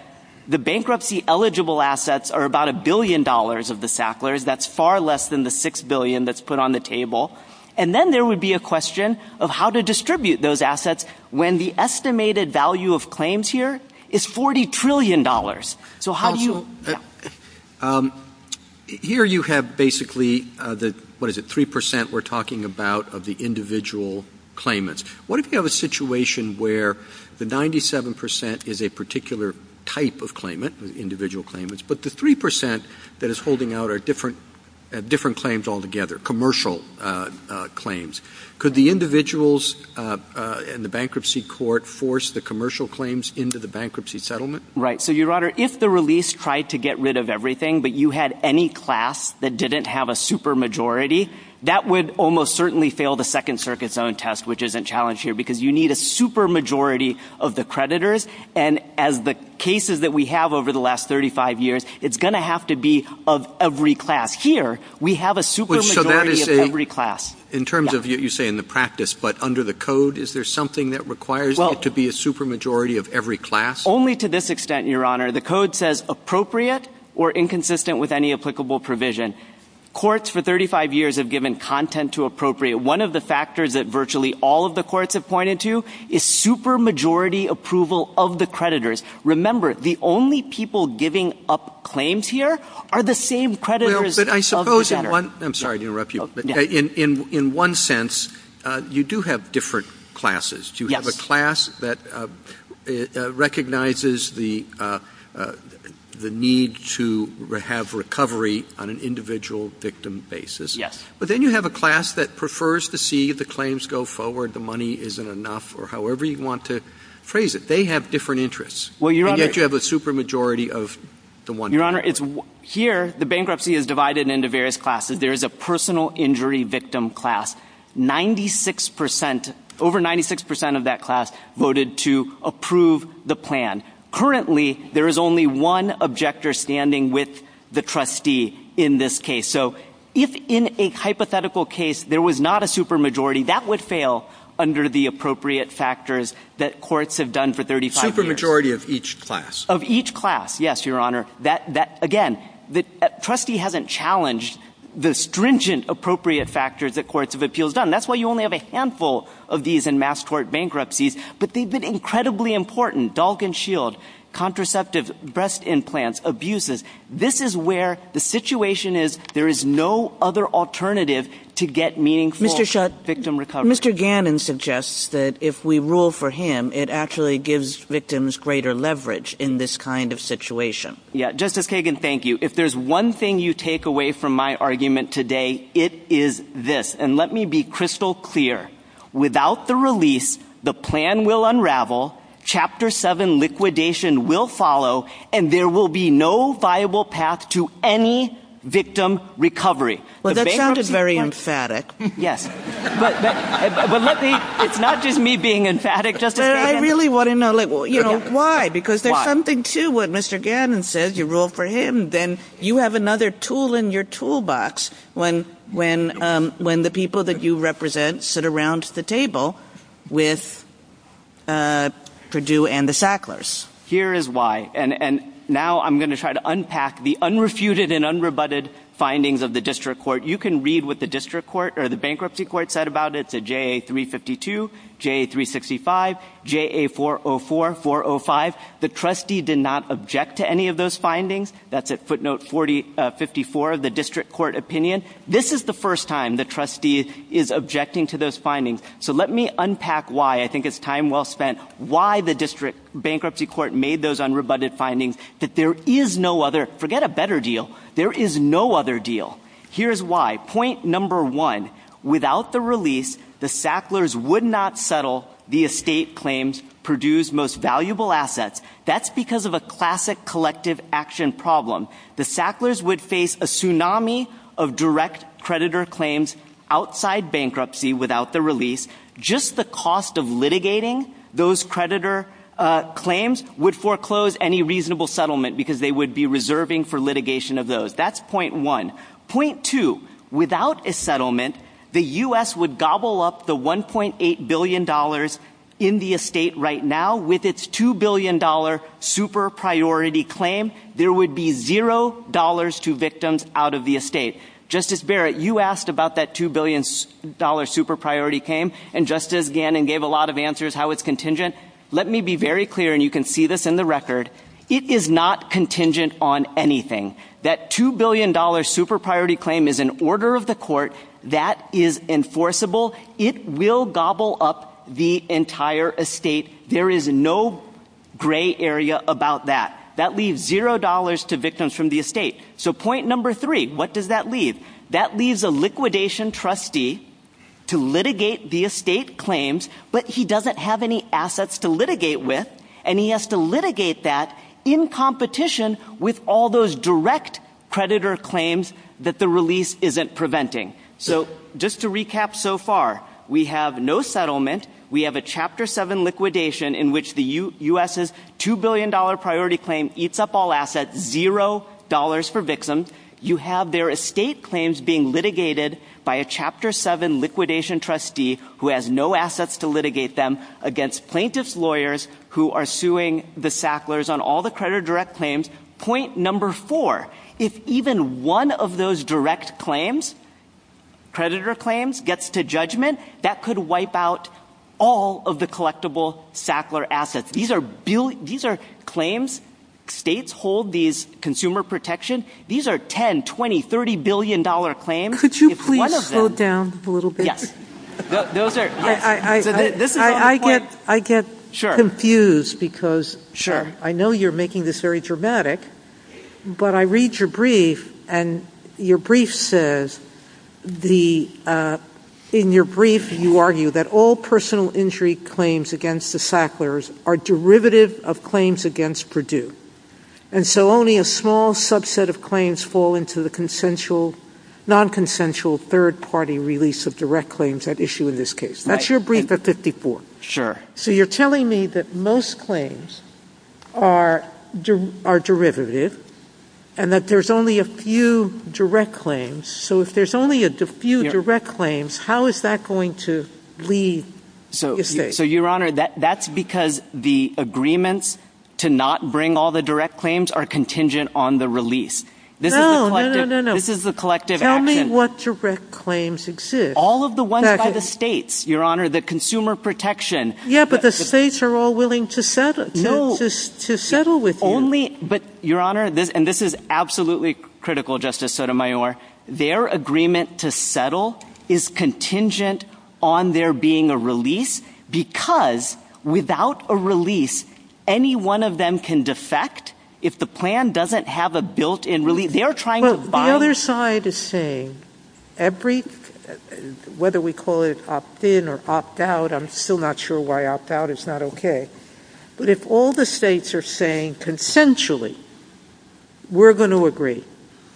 the bankruptcy-eligible assets are about $1 billion of the Sacklers. That's far less than the $6 billion that's put on the table. And then there would be a question of how to distribute those assets when the estimated value of claims here is $40 trillion. Here you have basically the 3% we're talking about of the individual claimants. What if you have a situation where the 97% is a particular type of claimant, individual claimants, but the 3% that is holding out are different claims altogether, commercial claims. Could the individuals in the bankruptcy court force the commercial claims into the bankruptcy settlement? Right. So, Your Honor, if the release tried to get rid of everything, but you had any class that didn't have a supermajority, that would almost certainly fail the Second Circuit's own test, which isn't challenged here, because you need a supermajority of the creditors. And as the cases that we have over the last 35 years, it's going to have to be of every class. Here, we have a supermajority of every class. In terms of what you say in the practice, but under the code, is there something that requires it to be a supermajority of every class? Only to this extent, Your Honor. The code says appropriate or inconsistent with any applicable provision. Courts for 35 years have given content to appropriate. One of the factors that virtually all of the courts have pointed to is supermajority approval of the creditors. Remember, the only people giving up claims here are the same creditors of the center. I'm sorry to interrupt you, but in one sense, you do have different classes. You have a class that recognizes the need to have recovery on an individual victim basis. But then you have a class that prefers to see the claims go forward, the money isn't enough, or however you want to phrase it. They have different interests. Yet you have a supermajority of the one class. Your Honor, here, the bankruptcy is divided into various classes. There is a personal injury victim class. Over 96% of that class voted to approve the plan. Currently, there is only one objector standing with the trustee in this case. So if in a hypothetical case there was not a supermajority, that would fail under the appropriate factors that courts have done for 35 years. Supermajority of each class? Of each class, yes, Your Honor. Again, the trustee hasn't challenged the stringent appropriate factors that courts of appeals have done. That's why you only have a handful of these in mass court bankruptcies. But they've been incredibly important. Dog and shield, contraceptives, breast implants, abuses. This is where the situation is there is no other alternative to get meaningful victim recovery. Mr. Gannon suggests that if we rule for him, it actually gives victims greater leverage in this kind of situation. Justice Kagan, thank you. If there's one thing you take away from my argument today, it is this. And let me be crystal clear. Without the release, the plan will unravel. Chapter 7 liquidation will follow. And there will be no viable path to any victim recovery. Well, that sounded very emphatic. Yes. But it's not just me being emphatic, Justice Kagan. I really want to know why. Because there's something to what Mr. Gannon says. You rule for him. Then you have another tool in your toolbox when the people that you represent sit around the table with Purdue and the Sacklers. Here is why. And now I'm going to try to unpack the unrefuted and unrebutted findings of the district court. You can read what the district court or the bankruptcy court said about it. It said JA352, JA365, JA404, 405. The trustee did not object to any of those findings. That's at footnote 54 of the district court opinion. This is the first time the trustee is objecting to those findings. So let me unpack why. I think it's time well spent. Why the district bankruptcy court made those unrebutted findings that there is no other, forget a better deal, there is no other deal. Here's why. Point number one, without the release, the Sacklers would not settle the estate claims, Purdue's most valuable assets. That's because of a classic collective action problem. The Sacklers would face a tsunami of direct creditor claims outside bankruptcy without the release. Just the cost of litigating those creditor claims would foreclose any reasonable settlement because they would be reserving for litigation of those. That's point one. Point two, without a settlement, the U.S. would gobble up the $1.8 billion in the estate right now with its $2 billion super priority claim. There would be zero dollars to victims out of the estate. Justice Barrett, you asked about that $2 billion super priority claim, and Justice Gannon gave a lot of answers how it's contingent. Let me be very clear, and you can see this in the record. It is not contingent on anything. That $2 billion super priority claim is an order of the court. That is enforceable. It will gobble up the entire estate. There is no gray area about that. That leaves zero dollars to victims from the estate. So point number three, what does that leave? That leaves a liquidation trustee to litigate the estate claims, but he doesn't have any assets to litigate with, and he has to litigate that in competition with all those direct creditor claims that the release isn't preventing. So just to recap so far, we have no settlement. We have a Chapter 7 liquidation in which the U.S.'s $2 billion priority claim eats up all assets, zero dollars for victims. You have their estate claims being litigated by a Chapter 7 liquidation trustee who has no assets to litigate them against plaintiff's lawyers who are suing the Sacklers on all the credit direct claims. Point number four, if even one of those direct claims, creditor claims, gets to judgment, that could wipe out all of the collectible Sackler assets. These are claims. States hold these consumer protections. These are $10, $20, $30 billion claims. Could you please slow down a little bit? Yes. I get confused because I know you're making this very dramatic, but I read your brief, and your brief says, in your brief, you argue that all personal injury claims against the Sacklers are derivative of claims against Purdue. And so only a small subset of claims fall into the non-consensual third-party release of direct claims at issue in this case. That's your brief at 54. Sure. So you're telling me that most claims are derivative and that there's only a few direct claims. So if there's only a few direct claims, how is that going to lead this case? So, Your Honor, that's because the agreements to not bring all the direct claims are contingent on the release. No, no, no, no. This is a collective action. Tell me what direct claims exist. All of the ones by the states, Your Honor, the consumer protection. Yeah, but the states are all willing to settle with you. But, Your Honor, and this is absolutely critical, Justice Sotomayor, their agreement to settle is contingent on there being a release because without a release, any one of them can defect. If the plan doesn't have a built-in release, they are trying to... The other side is saying, whether we call it opt-in or opt-out, I'm still not sure why opt-out is not okay. But if all the states are saying consensually, we're going to agree.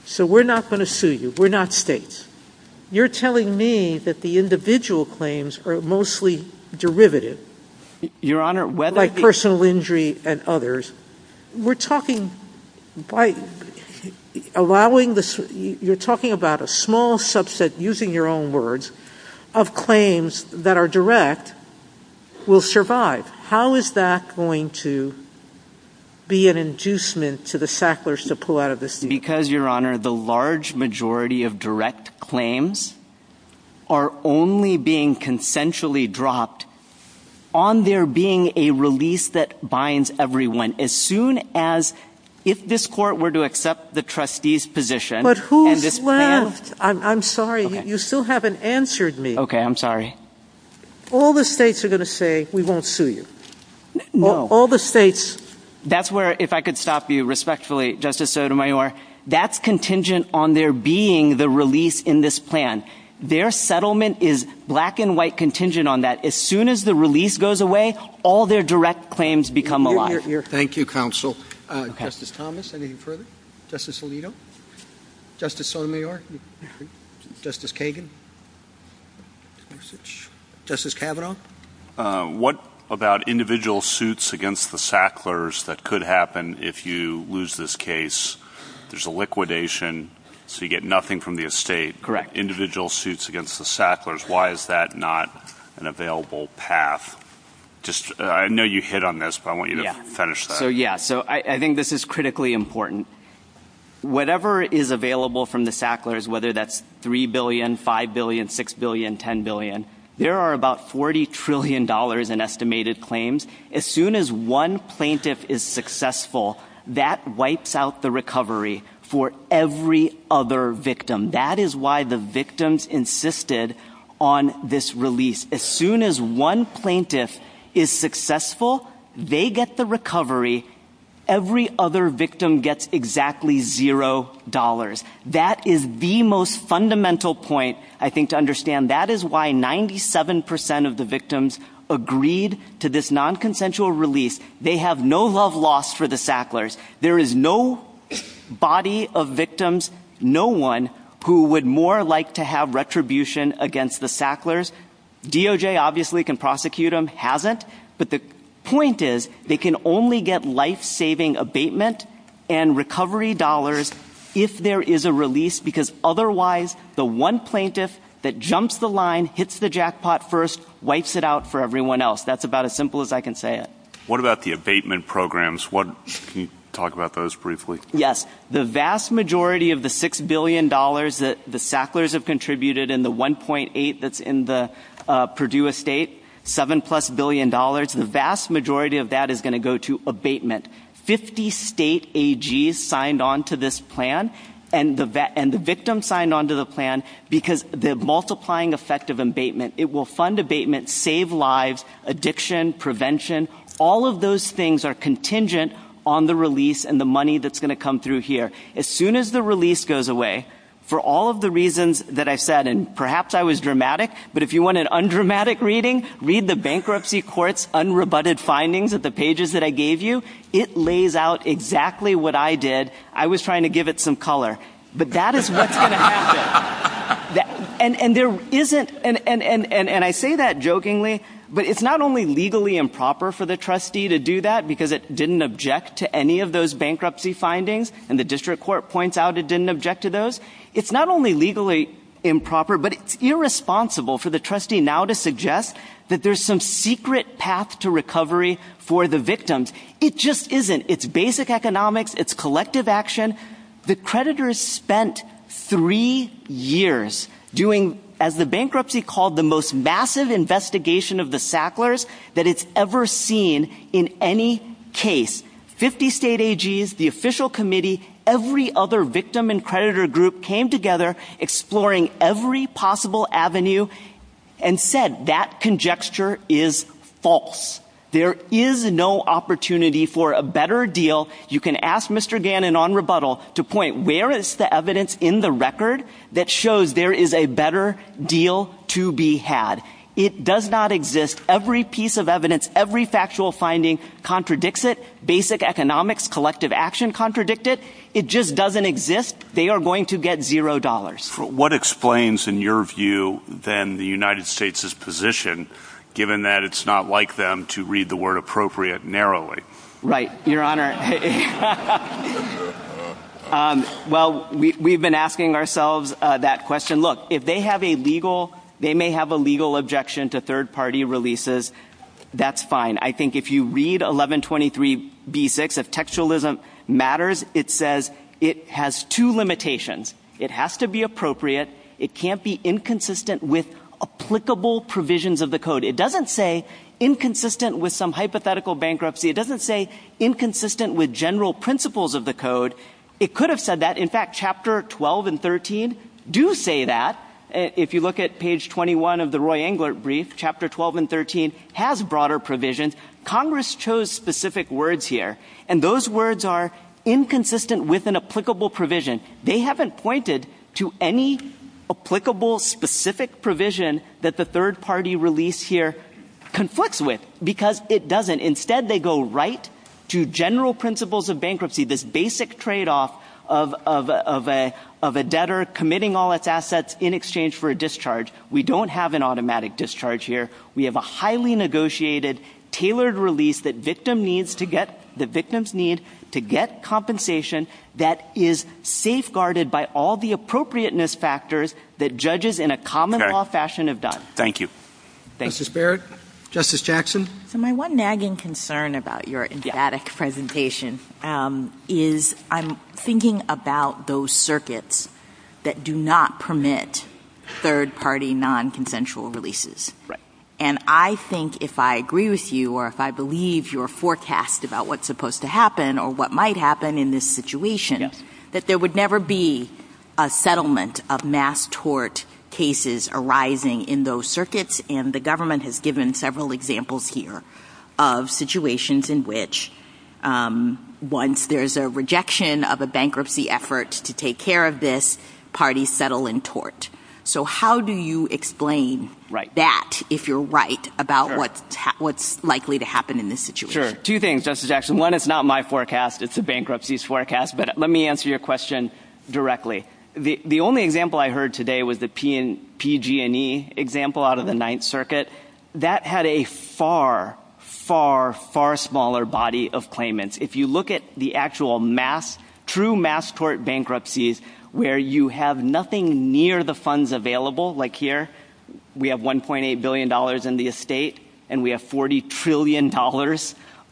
So we're not going to sue you. We're not states. You're telling me that the individual claims are mostly derivative. Your Honor, whether... Like personal injury and others. We're talking about a small subset, using your own words, of claims that are direct will survive. How is that going to be an inducement to the Sacklers to pull out of this? Because, Your Honor, the large majority of direct claims are only being consensually dropped on there being a release that binds everyone. As soon as, if this court were to accept the trustee's position... But who's left? I'm sorry, you still haven't answered me. Okay, I'm sorry. All the states are going to say, we won't sue you. No. All the states... That's where, if I could stop you respectfully, Justice Sotomayor, that's contingent on there being the release in this plan. Their settlement is black and white contingent on that. As soon as the release goes away, all their direct claims become alive. Thank you, Counsel. Justice Thomas, anything further? Justice Alito? Justice Sotomayor? Justice Kagan? Justice Kavanaugh? What about individual suits against the Sacklers that could happen if you lose this case? There's a liquidation, so you get nothing from the estate. Individual suits against the Sacklers, why is that not an available path? I know you hit on this, but I want you to finish that. Yeah, so I think this is critically important. Whatever is available from the Sacklers, whether that's $3 billion, $5 billion, $6 billion, $10 billion, there are about $40 trillion in estimated claims. As soon as one plaintiff is successful, that wipes out the recovery for every other victim. That is why the victims insisted on this release. As soon as one plaintiff is successful, they get the recovery. Every other victim gets exactly $0. That is the most fundamental point, I think, to understand. That is why 97% of the victims agreed to this nonconsensual release. They have no love lost for the Sacklers. There is no body of victims, no one, who would more like to have retribution against the Sacklers. DOJ obviously can prosecute them. It hasn't. But the point is, they can only get life-saving abatement and recovery dollars if there is a release. Because otherwise, the one plaintiff that jumps the line, hits the jackpot first, wipes it out for everyone else. That's about as simple as I can say it. What about the abatement programs? Can you talk about those briefly? Yes. The vast majority of the $6 billion that the Sacklers have contributed, and the $1.8 billion that is in the Purdue estate, $7 plus billion, the vast majority of that is going to go to abatement. 50 state AGs signed on to this plan, and the victims signed on to the plan, because of the multiplying effect of abatement. It will fund abatement, save lives, addiction, prevention. All of those things are contingent on the release and the money that's going to come through here. As soon as the release goes away, for all of the reasons that I said, and perhaps I was dramatic, but if you want an undramatic reading, read the bankruptcy court's unrebutted findings of the pages that I gave you. It lays out exactly what I did. I was trying to give it some color. But that is what's going to happen. And I say that jokingly, but it's not only legally improper for the trustee to do that, because it didn't object to any of those bankruptcy findings, and the district court points out it didn't object to those. It's not only legally improper, but it's irresponsible for the trustee now to suggest that there's some secret path to recovery for the victims. It just isn't. It's basic economics. It's collective action. The creditors spent three years doing, as the bankruptcy called, the most massive investigation of the Sacklers that it's ever seen in any case. Fifty state AGs, the official committee, every other victim and creditor group came together exploring every possible avenue and said that conjecture is false. There is no opportunity for a better deal. You can ask Mr. Gannon on rebuttal to point where is the evidence in the record that shows there is a better deal to be had. It does not exist. Every piece of evidence, every factual finding contradicts it. Basic economics, collective action contradict it. It just doesn't exist. They are going to get zero dollars. What explains, in your view, then the United States' position, given that it's not like them to read the word appropriate narrowly? Right, Your Honor. Well, we've been asking ourselves that question. Look, if they may have a legal objection to third-party releases, that's fine. I think if you read 1123b-6, if textualism matters, it says it has two limitations. It has to be appropriate. It can't be inconsistent with applicable provisions of the code. It doesn't say inconsistent with some hypothetical bankruptcy. It doesn't say inconsistent with general principles of the code. It could have said that. In fact, chapter 12 and 13 do say that. If you look at page 21 of the Roy Englert brief, chapter 12 and 13 has broader provisions. Congress chose specific words here, and those words are inconsistent with an applicable provision. They haven't pointed to any applicable specific provision that the third-party release here conflicts with because it doesn't. Instead, they go right to general principles of bankruptcy, this basic tradeoff of a debtor committing all its assets in exchange for a discharge. We don't have an automatic discharge here. We have a highly negotiated, tailored release that the victims need to get compensation that is safeguarded by all the appropriateness factors that judges in a common-law fashion have done. Thank you. Justice Barrett? Justice Jackson? My one nagging concern about your emphatic presentation is I'm thinking about those circuits that do not permit third-party nonconsensual releases. Right. And I think if I agree with you or if I believe your forecast about what's supposed to happen or what might happen in this situation, that there would never be a settlement of mass tort cases arising in those circuits, and the government has given several examples here of situations in which once there's a rejection of a bankruptcy effort to take care of this, parties settle in tort. So how do you explain that, if you're right, about what's likely to happen in this situation? Sure. Two things, Justice Jackson. One, it's not my forecast. It's a bankruptcy's forecast. But let me answer your question directly. The only example I heard today was the PG&E example out of the Ninth Circuit. That had a far, far, far smaller body of claimants. If you look at the actual mass, true mass tort bankruptcies where you have nothing near the funds available, like here, we have $1.8 billion in the estate and we have $40 trillion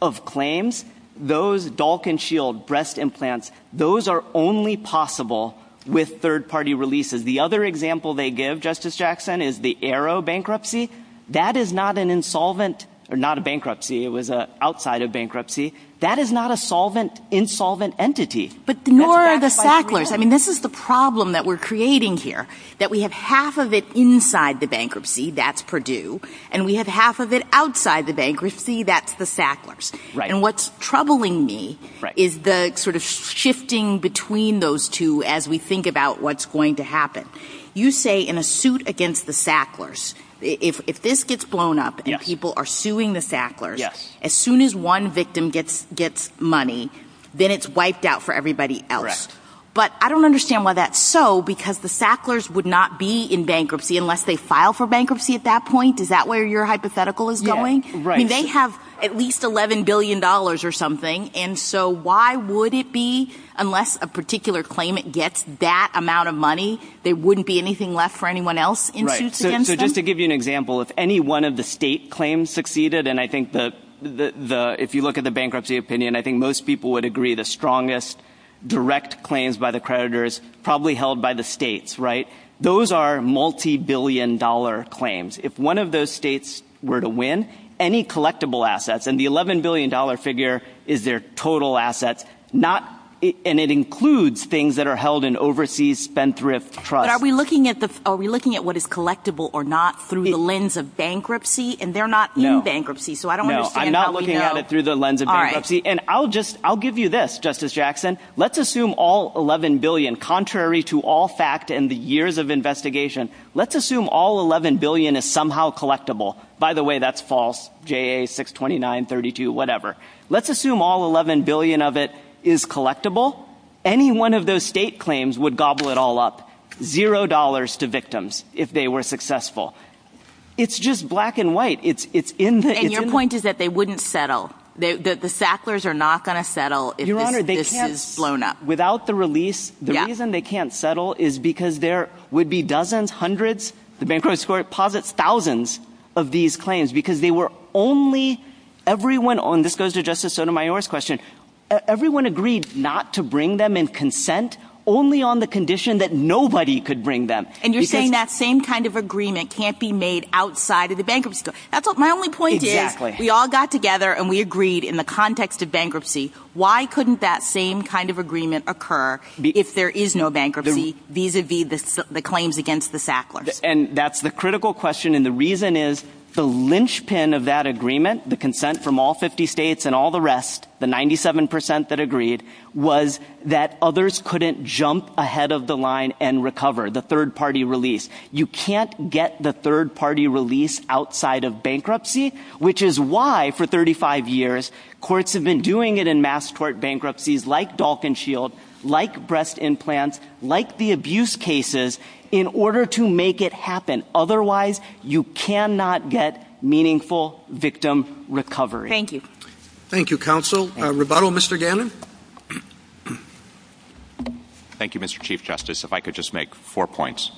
of claims, those Dalkin Shield breast implants, those are only possible with third-party releases. The other example they give, Justice Jackson, is the Arrow bankruptcy. That is not an insolvent, or not a bankruptcy. It was outside of bankruptcy. That is not an insolvent entity. But nor are the Sacklers. I mean, this is the problem that we're creating here, that we have half of it inside the bankruptcy. That's Purdue. And we have half of it outside the bankruptcy. That's the Sacklers. And what's troubling me is the sort of shifting between those two as we think about what's going to happen. You say in a suit against the Sacklers, if this gets blown up and people are suing the Sacklers, as soon as one victim gets money, then it's wiped out for everybody else. But I don't understand why that's so, because the Sacklers would not be in bankruptcy unless they file for bankruptcy at that point. Is that where your hypothetical is going? They have at least $11 billion or something. And so why would it be, unless a particular claimant gets that amount of money, there wouldn't be anything left for anyone else in suits against them? Right. So just to give you an example, if any one of the state claims succeeded, and I think if you look at the bankruptcy opinion, I think most people would agree the strongest direct claims by the creditors probably held by the states, right? Those are multibillion-dollar claims. If one of those states were to win, any collectible assets, and the $11 billion figure is their total assets, and it includes things that are held in overseas spendthrift trusts. But are we looking at what is collectible or not through the lens of bankruptcy? And they're not in bankruptcy, so I don't understand how we know. No, I'm not looking at it through the lens of bankruptcy. And I'll give you this, Justice Jackson. Let's assume all $11 billion, contrary to all fact in the years of investigation, let's assume all $11 billion is somehow collectible. By the way, that's false, JA 62932, whatever. Let's assume all $11 billion of it is collectible. Any one of those state claims would gobble it all up. Zero dollars to victims if they were successful. It's just black and white. And your point is that they wouldn't settle. The Sacklers are not going to settle if this is blown up. Without the release, the reason they can't settle is because there would be dozens, hundreds, the bankruptcy court posits thousands of these claims because they were only, this goes to Justice Sotomayor's question, everyone agreed not to bring them in consent only on the condition that nobody could bring them. And you're saying that same kind of agreement can't be made outside of the bankruptcy court. That's my only point here. Exactly. We all got together and we agreed in the context of bankruptcy, why couldn't that same kind of agreement occur if there is no bankruptcy vis-a-vis the claims against the Sacklers? And that's the critical question. And the reason is the linchpin of that agreement, the consent from all 50 states and all the rest, the 97% that agreed was that others couldn't jump ahead of the line and recover the third-party release. You can't get the third-party release outside of bankruptcy, which is why, for 35 years, courts have been doing it in mass court bankruptcies like Dalkinshield, like breast implants, like the abuse cases, in order to make it happen. Otherwise, you cannot get meaningful victim recovery. Thank you. Thank you, Counsel. Rebuttal, Mr. Gannon? Thank you, Mr. Chief Justice. If I could just make four points.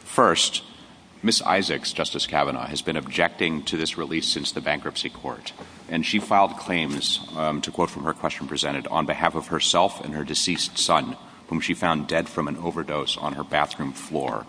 First, Ms. Isaacs, Justice Kavanaugh, has been objecting to this release since the bankruptcy court, and she filed claims, to quote from her question presented, on behalf of herself and her deceased son, whom she found dead from an overdose on her bathroom floor.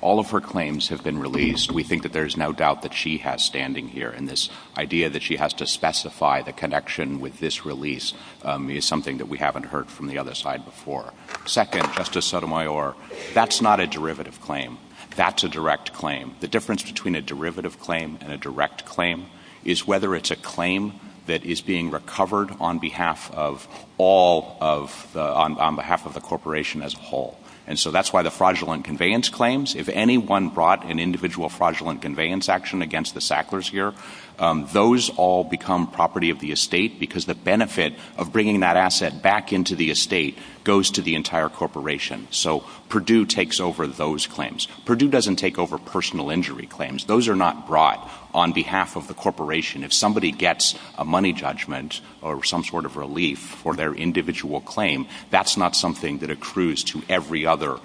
All of her claims have been released. We think that there is no doubt that she has standing here, and this idea that she has to specify the connection with this release is something that we haven't heard from the other side before. Second, Justice Sotomayor, that's not a derivative claim. That's a direct claim. The difference between a derivative claim and a direct claim is whether it's a claim that is being recovered on behalf of the corporation as a whole. And so that's why the fraudulent conveyance claims, if anyone brought an individual fraudulent conveyance action against the Sacklers here, those all become property of the estate because the benefit of bringing that asset back into the estate goes to the entire corporation. So Purdue takes over those claims. Purdue doesn't take over personal injury claims. Those are not brought on behalf of the corporation. If somebody gets a money judgment or some sort of relief for their individual claim, that's not something that accrues to every other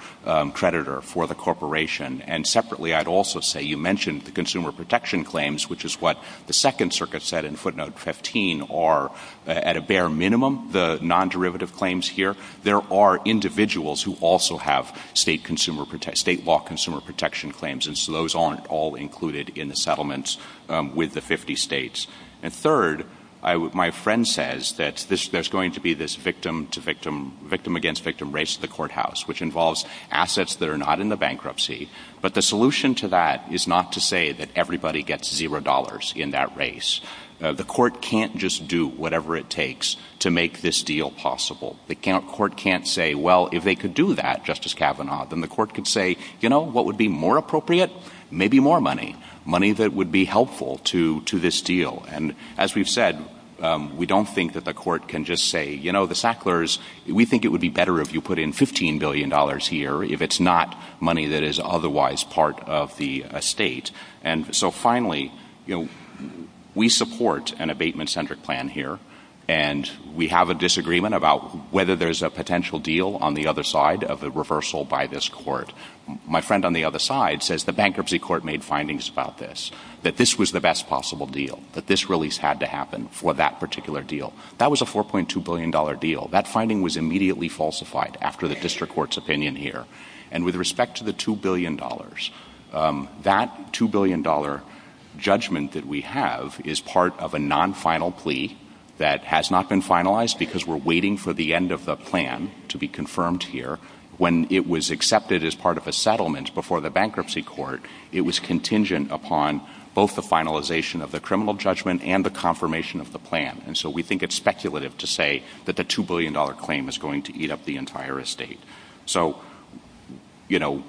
creditor for the corporation. And separately, I'd also say you mentioned the consumer protection claims, which is what the Second Circuit said in footnote 15 are, at a bare minimum, the non-derivative claims here. There are individuals who also have state law consumer protection claims, and so those aren't all included in the settlements with the 50 states. And third, my friend says that there's going to be this victim-to-victim, victim-against-victim race in the courthouse, which involves assets that are not in the bankruptcy. But the solution to that is not to say that everybody gets zero dollars in that race. The court can't just do whatever it takes to make this deal possible. The court can't say, well, if they could do that, Justice Kavanaugh, then the court could say, you know, what would be more appropriate? Maybe more money, money that would be helpful to this deal. And as we've said, we don't think that the court can just say, you know, the Sacklers, we think it would be better if you put in $15 billion here if it's not money that is otherwise part of the estate. And so finally, you know, we support an abatement-centric plan here, and we have a disagreement about whether there's a potential deal on the other side of the reversal by this court. My friend on the other side says the bankruptcy court made findings about this, that this was the best possible deal, that this release had to happen for that particular deal. That was a $4.2 billion deal. That finding was immediately falsified after the district court's opinion here. And with respect to the $2 billion, that $2 billion judgment that we have is part of a non-final plea that has not been finalized because we're waiting for the end of the plan to be confirmed here. When it was accepted as part of a settlement before the bankruptcy court, it was contingent upon both the finalization of the criminal judgment and the confirmation of the plan. And so we think it's speculative to say that the $2 billion claim is going to eat up the entire estate. So, you know,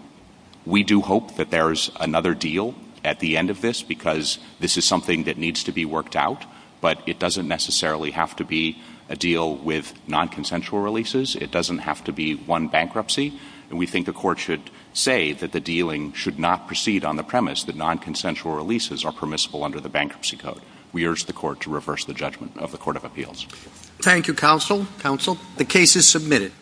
we do hope that there's another deal at the end of this because this is something that needs to be worked out, but it doesn't necessarily have to be a deal with non-consensual releases. It doesn't have to be one bankruptcy. And we think the court should say that the dealing should not proceed on the premise that non-consensual releases are permissible under the bankruptcy code. We urge the court to reverse the judgment of the Court of Appeals. Thank you, counsel. Counsel. The case is submitted.